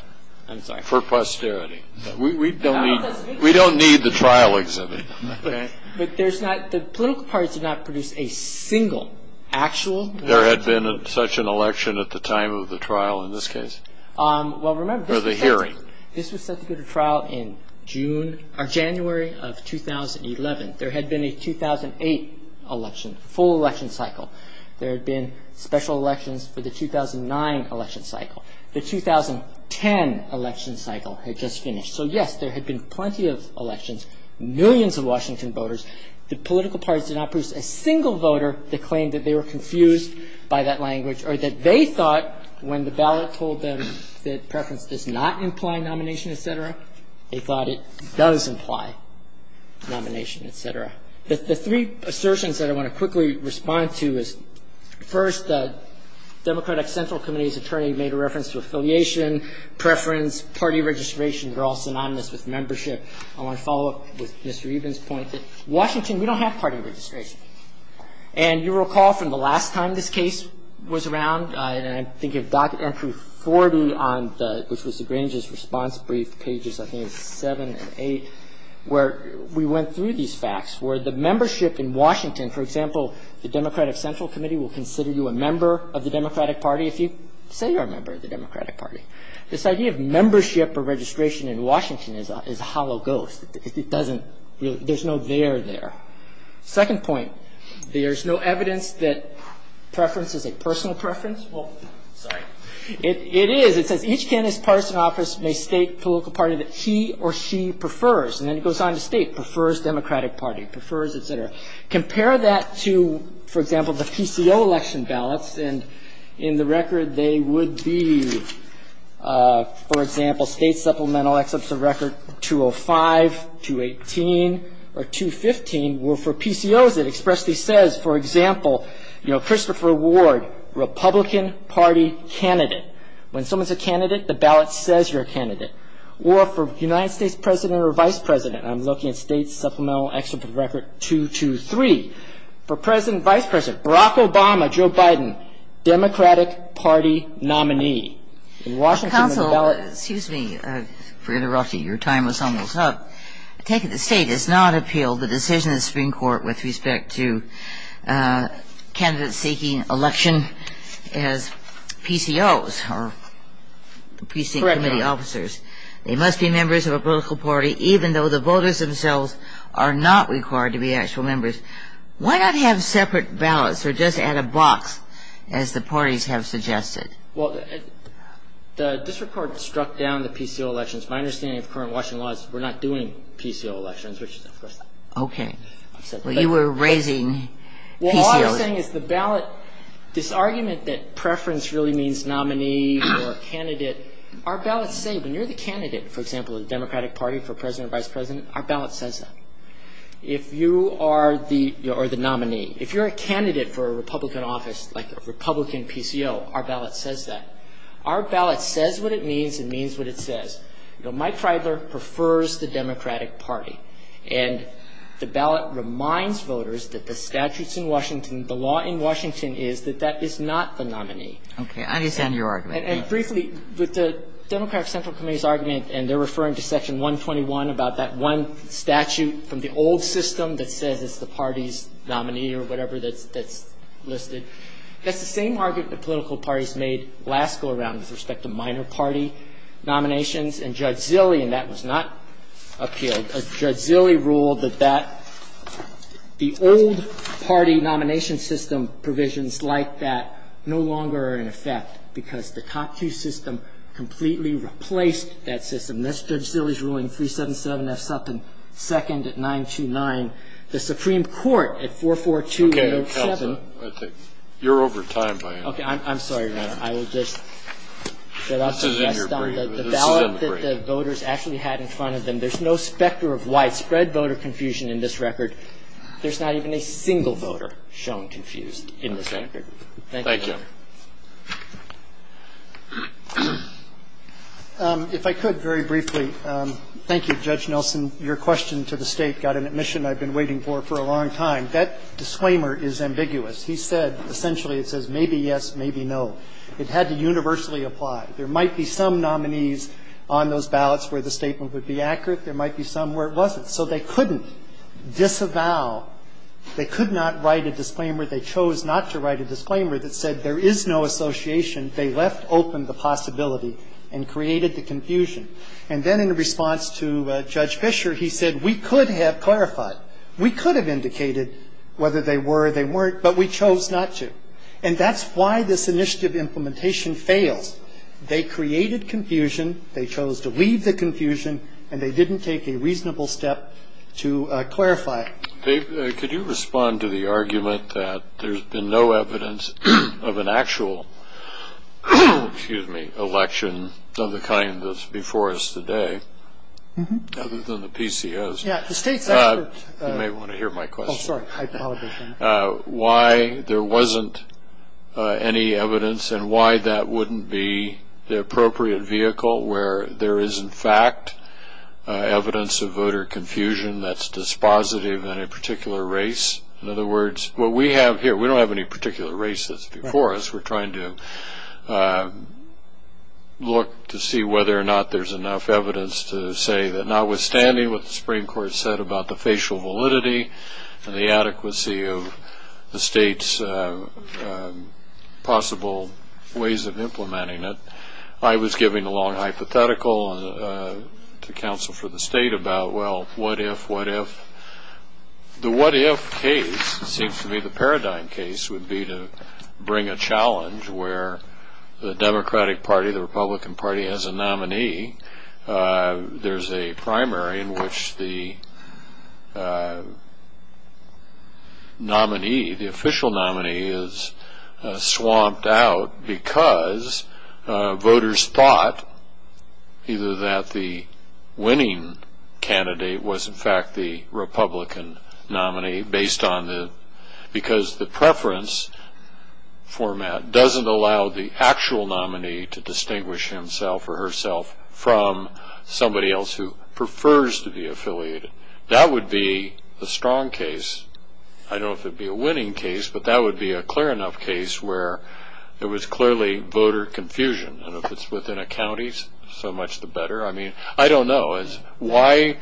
I'm sorry. For posterity. We don't need — we don't need the trial exhibit, okay? There had been such an election at the time of the trial in this case. Or the hearing. This was set to be the trial in January of 2011. There had been a 2008 election, full election cycle. There had been special elections for the 2009 election cycle. The 2010 election cycle had just finished. So, yes, there had been plenty of elections, millions of Washington voters. The political parties did not produce a single voter that claimed that they were confused by that language or that they thought when the ballot told them that preference does not imply nomination, et cetera, they thought it does imply nomination, et cetera. The three assertions that I want to quickly respond to is, first, the Democratic Central Committee's attorney made a reference to affiliation, preference, party registration. They're all synonymous with membership. I want to follow up with Mr. Eban's point that Washington, we don't have party registration. And you recall from the last time this case was around, and I'm thinking of entry 40 on the — which was the Greenwich's response brief, pages, I think, 7 and 8, where we went through these facts, where the membership in Washington, for example, the Democratic Central Committee will consider you a member of the Democratic Party if you say you're a member of the Democratic Party. This idea of membership or registration in Washington is a hollow ghost. It doesn't — there's no there there. Second point, there's no evidence that preference is a personal preference. Well, sorry. It is. It says each candidate's partisan office may state political party that he or she prefers. And then it goes on to state prefers Democratic Party, prefers, et cetera. Compare that to, for example, the PCO election ballots, and in the record they would be, for example, state supplemental excerpts of record 205, 218, or 215, where for PCOs it expressly says, for example, you know, Christopher Ward, Republican Party candidate. When someone's a candidate, the ballot says you're a candidate. Or for United States president or vice president, I'm looking at state supplemental excerpt of record 223. For president or vice president, Barack Obama, Joe Biden, Democratic Party nominee. In Washington, the ballot — Counsel, excuse me for interrupting. Your time was almost up. I take it the state has not appealed the decision of the Supreme Court with respect to candidates seeking election as PCOs or PC Committee officers. Correct. They must be members of a political party even though the voters themselves are not required to be actual members. Why not have separate ballots or just add a box, as the parties have suggested? Well, this report struck down the PCO elections. My understanding of current Washington law is we're not doing PCO elections, which is a first. Okay. Well, you were raising PCOs. Well, all I'm saying is the ballot, this argument that preference really means nominee or candidate, our ballots say when you're the candidate, for example, the Democratic Party for president or vice president, our ballot says that. If you are the nominee, if you're a candidate for a Republican office, like a Republican PCO, our ballot says that. Our ballot says what it means and means what it says. You know, Mike Freidler prefers the Democratic Party. And the ballot reminds voters that the statutes in Washington, the law in Washington, is that that is not the nominee. Okay. I understand your argument. And briefly, with the Democratic Central Committee's argument, and they're referring to Section 121 about that one statute from the old system that says it's the party's nominee or whatever that's listed, that's the same argument the political parties made last go-around with respect to minor party nominations. And Judge Zilley in that was not appealed. Judge Zilley ruled that that the old party nomination system provisions like that no longer are in effect because the COP 2 system completely replaced that system. That's Judge Zilley's ruling, 377 F. Sutton, second at 929. The Supreme Court at 442-807. Okay. You're over time, Brian. Okay. I'm sorry, Your Honor. I will just shut off the rest on the ballot that the voters actually had in front of them. There's no specter of widespread voter confusion in this record. There's not even a single voter shown confused in this record. Thank you. If I could very briefly. Thank you, Judge Nelson. Your question to the State got an admission I've been waiting for for a long time. That disclaimer is ambiguous. He said essentially it says maybe yes, maybe no. It had to universally apply. There might be some nominees on those ballots where the statement would be accurate. There might be some where it wasn't. So they couldn't disavow. They could not write a disclaimer. They chose not to write a disclaimer that said there is no association. They left open the possibility and created the confusion. And then in response to Judge Fischer, he said we could have clarified. We could have indicated whether they were or they weren't, but we chose not to. And that's why this initiative implementation fails. They created confusion. They chose to leave the confusion. And they didn't take a reasonable step to clarify it. Dave, could you respond to the argument that there's been no evidence of an actual, excuse me, election of the kind that's before us today other than the PCS? Yeah, the State's expert. You may want to hear my question. Oh, sorry. I apologize. Why there wasn't any evidence and why that wouldn't be the appropriate vehicle where there is, in fact, evidence of voter confusion that's dispositive in a particular race? In other words, what we have here, we don't have any particular race that's before us. We're trying to look to see whether or not there's enough evidence to say that notwithstanding what the Supreme Court said about the facial validity and the adequacy of the State's possible ways of implementing it, I was giving a long hypothetical to counsel for the State about, well, what if, what if. The what if case seems to me the paradigm case would be to bring a challenge where the Democratic Party, the Republican Party, as a nominee, there's a primary in which the nominee, the official nominee, is swamped out because voters thought either that the winning candidate was, in fact, the Republican nominee because the preference format doesn't allow the actual nominee to distinguish himself or herself from somebody else who prefers to be affiliated. That would be a strong case. I don't know if it would be a winning case, but that would be a clear enough case where there was clearly voter confusion. And if it's within a county, so much the better. I mean, I don't know. Why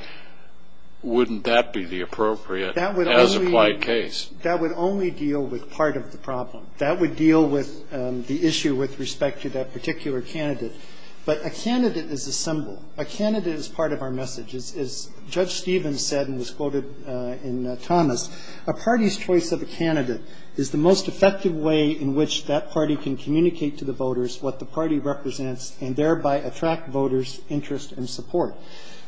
wouldn't that be the appropriate as-applied case? That would only deal with part of the problem. That would deal with the issue with respect to that particular candidate. But a candidate is a symbol. A candidate is part of our message. As Judge Stevens said and was quoted in Thomas, a party's choice of a candidate is the most effective way in which that party can communicate to the voters what the party represents and thereby attract voters' interest and support.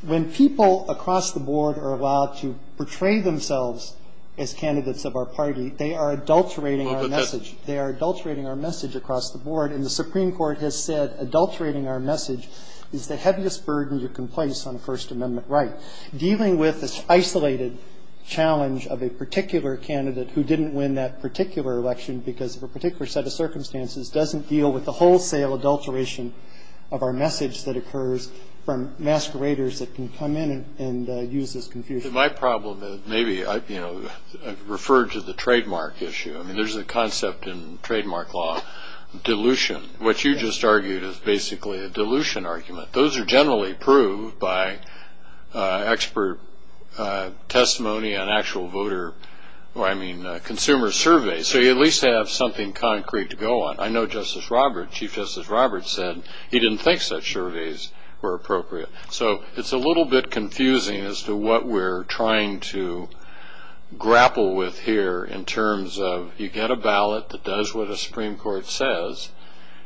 When people across the board are allowed to portray themselves as candidates of our party, they are adulterating our message. They are adulterating our message across the board. And the Supreme Court has said adulterating our message is the heaviest burden you can place on First Amendment right. Dealing with this isolated challenge of a particular candidate who didn't win that particular election because of a particular set of circumstances doesn't deal with the wholesale adulteration of our message that occurs from masqueraders that can come in and use this confusion. My problem is maybe I've referred to the trademark issue. I mean, there's a concept in trademark law, dilution. What you just argued is basically a dilution argument. Those are generally proved by expert testimony on actual voter or, I mean, consumer surveys. So you at least have something concrete to go on. I know Justice Roberts, Chief Justice Roberts said he didn't think such surveys were appropriate. So it's a little bit confusing as to what we're trying to grapple with here in terms of you get a ballot that does what a Supreme Court says,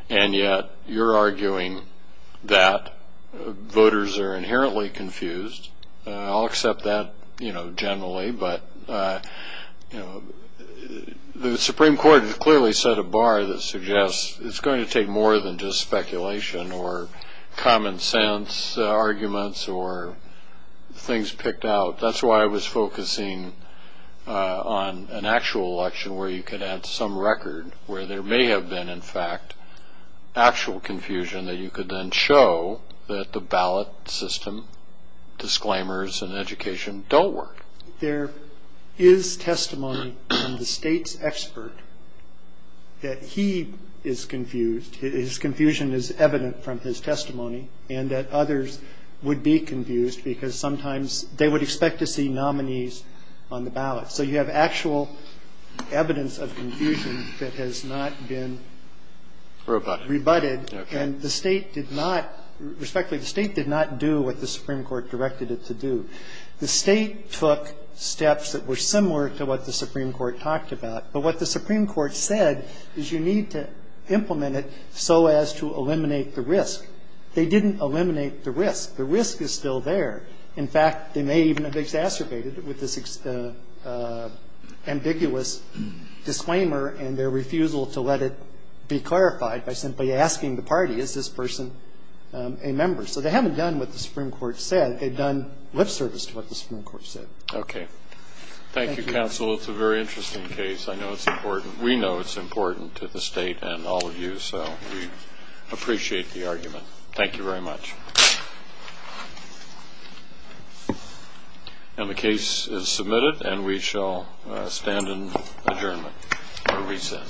and yet you're arguing that voters are inherently confused. I'll accept that, you know, generally. But, you know, the Supreme Court has clearly set a bar that suggests it's going to take more than just speculation or common sense arguments or things picked out. That's why I was focusing on an actual election where you could add some record where there may have been, in fact, actual confusion that you could then show that the ballot system, disclaimers, and education don't work. And so there is testimony from the State's expert that he is confused. His confusion is evident from his testimony, and that others would be confused because sometimes they would expect to see nominees on the ballot. So you have actual evidence of confusion that has not been rebutted. And the State did not, respectfully, the State did not do what the Supreme Court directed it to do. The State took steps that were similar to what the Supreme Court talked about. But what the Supreme Court said is you need to implement it so as to eliminate the risk. They didn't eliminate the risk. The risk is still there. In fact, they may even have exacerbated it with this ambiguous disclaimer and their refusal to let it be clarified by simply asking the party, is this person a member? So they haven't done what the Supreme Court said. They've done lip service to what the Supreme Court said. Okay. Thank you, counsel. It's a very interesting case. I know it's important. We know it's important to the State and all of you, so we appreciate the argument. Thank you very much. And the case is submitted, and we shall stand in adjournment or reset.